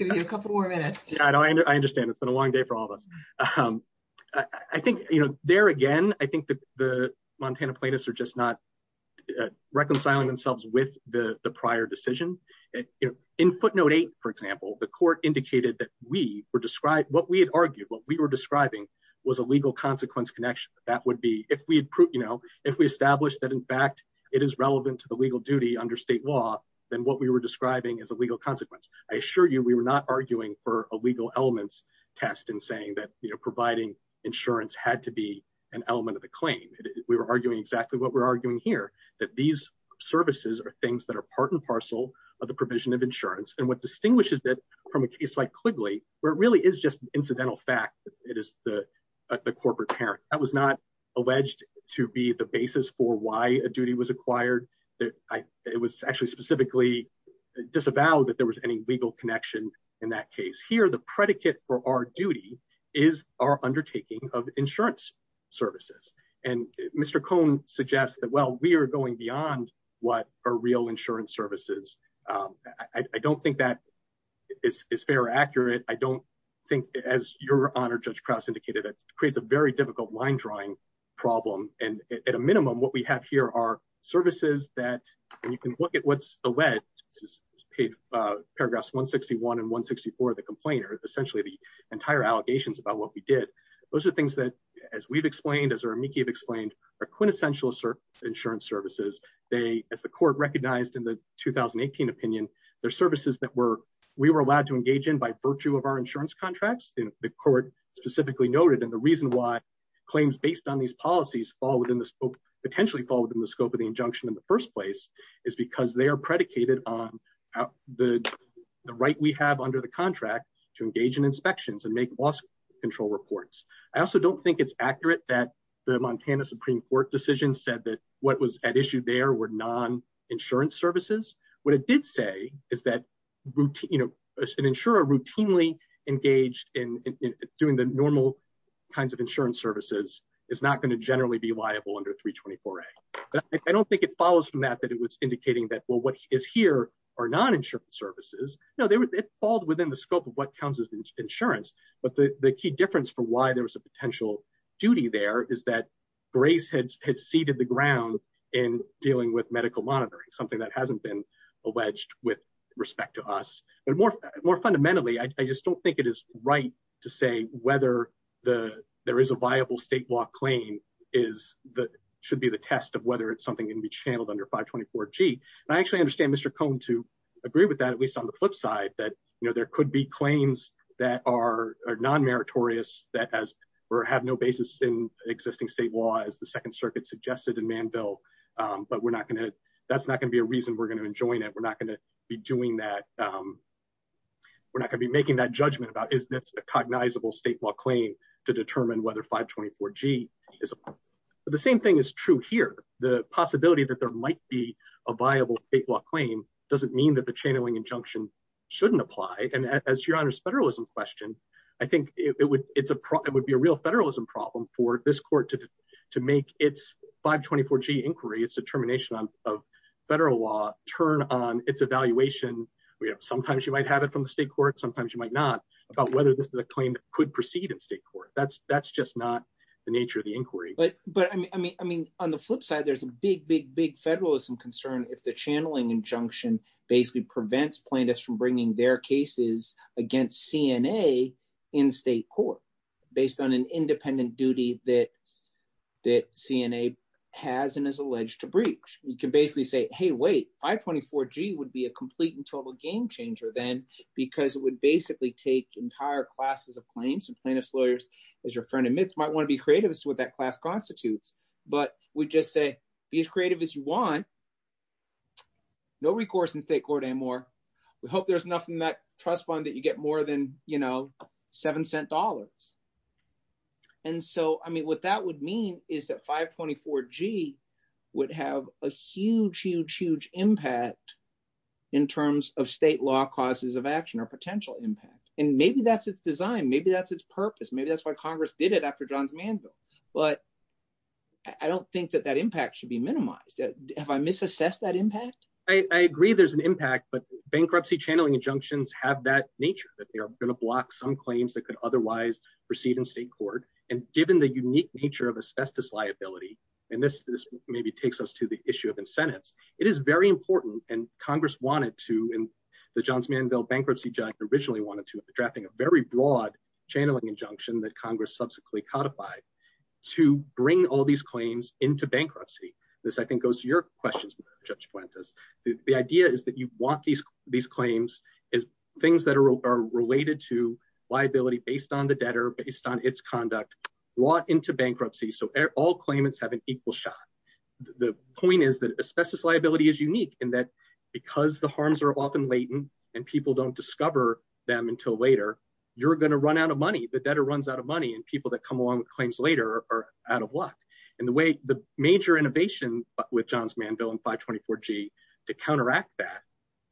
a couple more minutes. Yeah, I know. I understand. It's been a long day for all of us. I think, you know, there again, I think that the Montana plaintiffs are just not If we establish that, in fact, it is relevant to the legal duty under state law, then what we were describing as a legal consequence. I assure you, we were not arguing for a legal elements. Test and saying that, you know, providing insurance had to be an element of the claim. We were arguing exactly what we're arguing here that these services are things that are part and parcel of the provision of insurance and what distinguishes that from a case like quickly where it really is just incidental fact it is the The corporate parent that was not alleged to be the basis for why a duty was acquired that I, it was actually specifically Disavowed that there was any legal connection in that case here. The predicate for our duty is our undertaking of insurance services and Mr cone suggest that, well, we are going beyond what are real insurance services. I don't think that is fair accurate. I don't think as your honor just cross indicated it creates a very difficult line drawing problem and at a minimum, what we have here are services that you can look at what's alleged Paragraphs 161 and 164 the complainers essentially the entire allegations about what we did. Those are things that as we've explained as our Mickey explained a quintessential search insurance services. They have the court recognized in the Opinion their services that were we were allowed to engage in by virtue of our insurance contracts in the court specifically noted. And the reason why Claims based on these policies fall within the scope potentially fall within the scope of the injunction in the first place is because they are predicated on The right we have under the contract to engage in inspections and make boss control reports. I also don't think it's accurate that the Montana Supreme Court decision said that what was at issue there were non insurance services. What it did say is that You know, an insurer routinely engaged in doing the normal kinds of insurance services is not going to generally be liable under 324 I don't think it follows from that, that it was indicating that, well, what is here are non insurance services. No, there was it falls within the scope of what counts as insurance, but the key difference for why there was a potential duty there is that Grace had had seeded the ground and dealing with medical monitoring, something that hasn't been alleged with respect to us, but more More fundamentally, I just don't think it is right to say whether the there is a viable state law claim is the should be the test of whether it's something can be channeled under 524 G. I actually understand, Mr. Cone to agree with that, at least on the flip side that, you know, there could be claims that are non meritorious that has Or have no basis in existing state law is the Second Circuit suggested a man built, but we're not going to, that's not going to be a reason we're going to enjoin it. We're not going to be doing that. We're not gonna be making that judgment about is a cognizable state law claim to determine whether 524 G is The same thing is true here, the possibility that there might be a viable state law claim doesn't mean that the channeling injunction. Shouldn't apply and as your honors federalism question. I think it would, it would be a real federalism problem for this court to To make its 524 G inquiry. It's a termination of federal law turn on its evaluation. And we have sometimes you might have it from the state court. Sometimes you might not about whether this is a claim could proceed in state court. That's, that's just not the nature of the inquiry. But, but I mean, I mean, on the flip side, there's a big, big, big federalism concern if the channeling injunction basically prevents plaintiffs from bringing their cases against CNA in state court based on an independent duty that That CNA has and is alleged to breach. You can basically say, hey, wait, 524 G would be a complete and total game changer then Because it would basically take entire classes of claims and plaintiffs lawyers, as your friend admits, might want to be creative as to what that class constitutes, but we just say, be as creative as you want. No recourse in state court anymore. We hope there's nothing that trust fund that you get more than, you know, seven cent dollars. And so, I mean, what that would mean is that 524 G would have a huge, huge, huge impact in terms of state law causes of action or potential impact and maybe that's its design. Maybe that's its purpose. Maybe that's why Congress did it after John Manville, but I don't think that that impact should be minimized. If I misassess that impact. I agree there's an impact, but bankruptcy channeling injunctions have that nature that they're going to block some claims that could otherwise proceed in state court and given the unique nature of asbestos liability. And this maybe takes us to the issue of incentives. It is very important and Congress wanted to in The Johns Manville bankruptcy judge originally wanted to be drafting a very broad channeling injunction that Congress subsequently codified To bring all these claims into bankruptcy. This, I think, goes to your questions, Judge Fuentes. The idea is that you want these these claims is things that are related to liability based on the debtor based on its conduct. Brought into bankruptcy. So all claimants have an equal shot. The point is that asbestos liability is unique in that Because the harms are often latent and people don't discover them until later. You're going to run out of money, the debtor runs out of money and people that come along with claims later are out of luck. And the way the major innovation with Johns Manville and 524 G to counteract that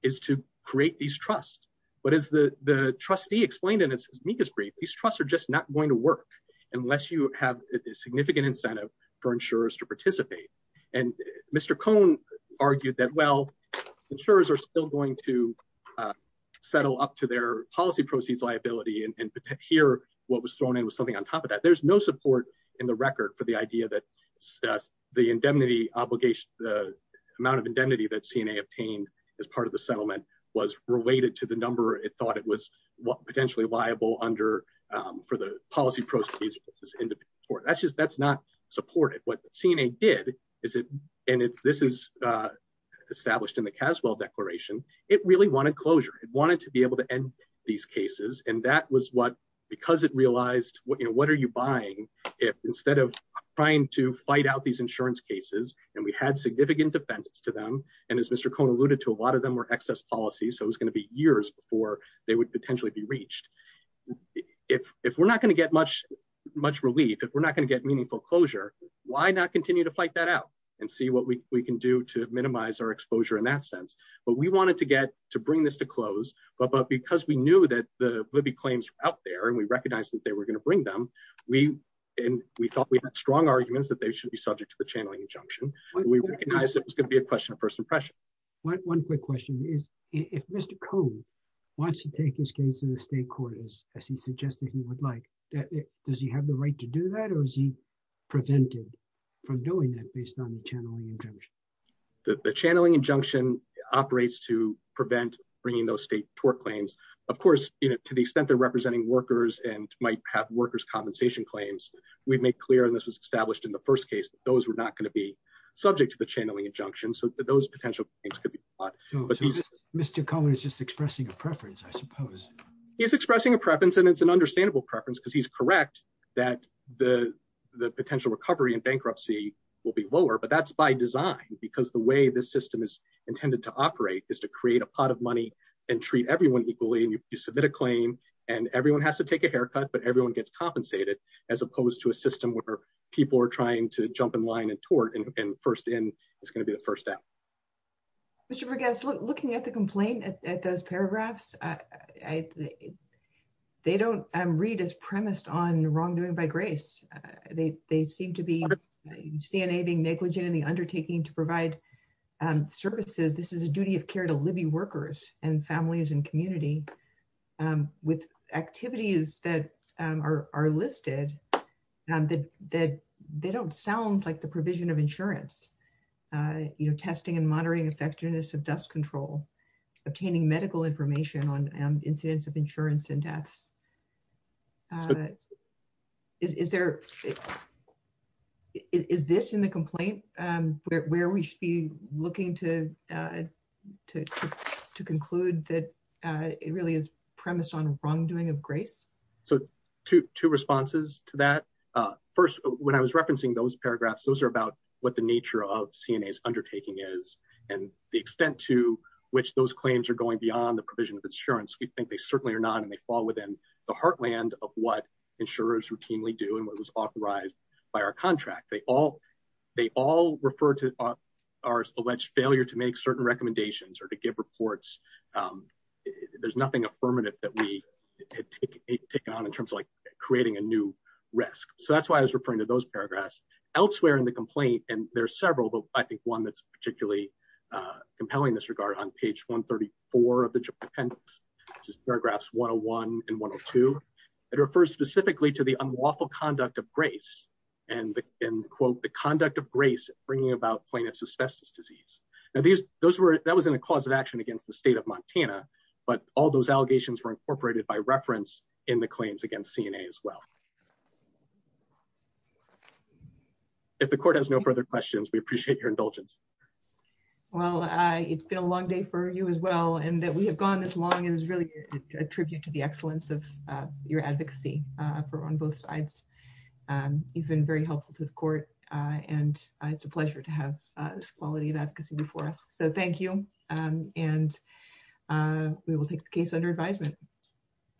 is to create these trusts. But as the, the trustee explained in its meekest brief, these trusts are just not going to work. Unless you have a significant incentive for insurers to participate and Mr. Cohn argued that, well, insurers are still going to Settle up to their policy proceeds liability and here what was thrown in with something on top of that. There's no support in the record for the idea that The indemnity obligation, the amount of indemnity that CNA obtained as part of the settlement was related to the number. It thought it was potentially liable under For the policy processes. That's just, that's not supported. What CNA did is it and if this is Established in the Caswell declaration. It really wanted closure. It wanted to be able to end these cases. And that was what because it realized what, you know, what are you buying If instead of trying to fight out these insurance cases and we had significant defendants to them. And as Mr. Cohn alluded to a lot of them were excess policy. So it's going to be years before they would potentially be reached. If, if we're not going to get much, much relief. If we're not going to get meaningful closure. Why not continue to fight that out. And see what we can do to minimize our exposure in that sense. But we wanted to get to bring this to close. But because we knew that the Libby claims out there and we recognize that they were going to bring them we And we thought we had strong arguments that they should be subject to the channeling injunction. We recognize it was going to be a question of first impression. What one quick question is, if Mr. Cohn wants to take this case in the state court, as he suggested he would like that. Does he have the right to do that or is he prevented from doing that based on the channeling injunction. The channeling injunction operates to prevent bringing those state tort claims, of course, to the extent that representing workers and might have workers compensation claims. We've made clear this was established in the first case, those were not going to be subject to the channeling injunction. So those potential things could be Mr. Cohen is just expressing a preference, I suppose. He's expressing a preference and it's an understandable preference because he's correct that the The potential recovery and bankruptcy will be lower, but that's by design, because the way this system is intended to operate is to create a pot of money. And treat everyone equally. You submit a claim and everyone has to take a haircut, but everyone gets compensated as opposed to a system where people are trying to jump in line and tort and first in is going to be the first step. Mr. Vergas, looking at the complaint at those paragraphs. They don't read as premised on wrongdoing by grace. They seem to be CNA being negligent in the undertaking to provide services. This is a duty of care to Libby workers and families and community. With activities that are listed, they don't sound like the provision of insurance. You know, testing and monitoring effectiveness of death control, obtaining medical information on incidents of insurance and death. Is there Is this in the complaint and where we should be looking to To conclude that it really is premised on wrongdoing of grace. So two responses to that. First, when I was referencing those paragraphs. Those are about what the nature of CNA is undertaking is And the extent to which those claims are going beyond the provision of insurance. We think they certainly are not and they fall within the heartland of what insurers routinely do and what was authorized by our contract. They all they all refer to Our alleged failure to make certain recommendations or to give reports. There's nothing affirmative that we Take on in terms of like creating a new risk. So that's why I was referring to those paragraphs elsewhere in the complaint. And there are several, but I think one that's particularly Compelling disregard on page 134 of the These those were that was in the cause of action against the state of Montana, but all those allegations were incorporated by reference in the claims against CNA as well. If the court has no further questions. We appreciate your indulgence. Well, I, it's been a long day for you as well. And that we have gone as long as really a tribute to the excellence of your advocacy for on both sides. You've been very helpful to the court and it's a pleasure to have quality that before us. So thank you and We will take the case under advisement.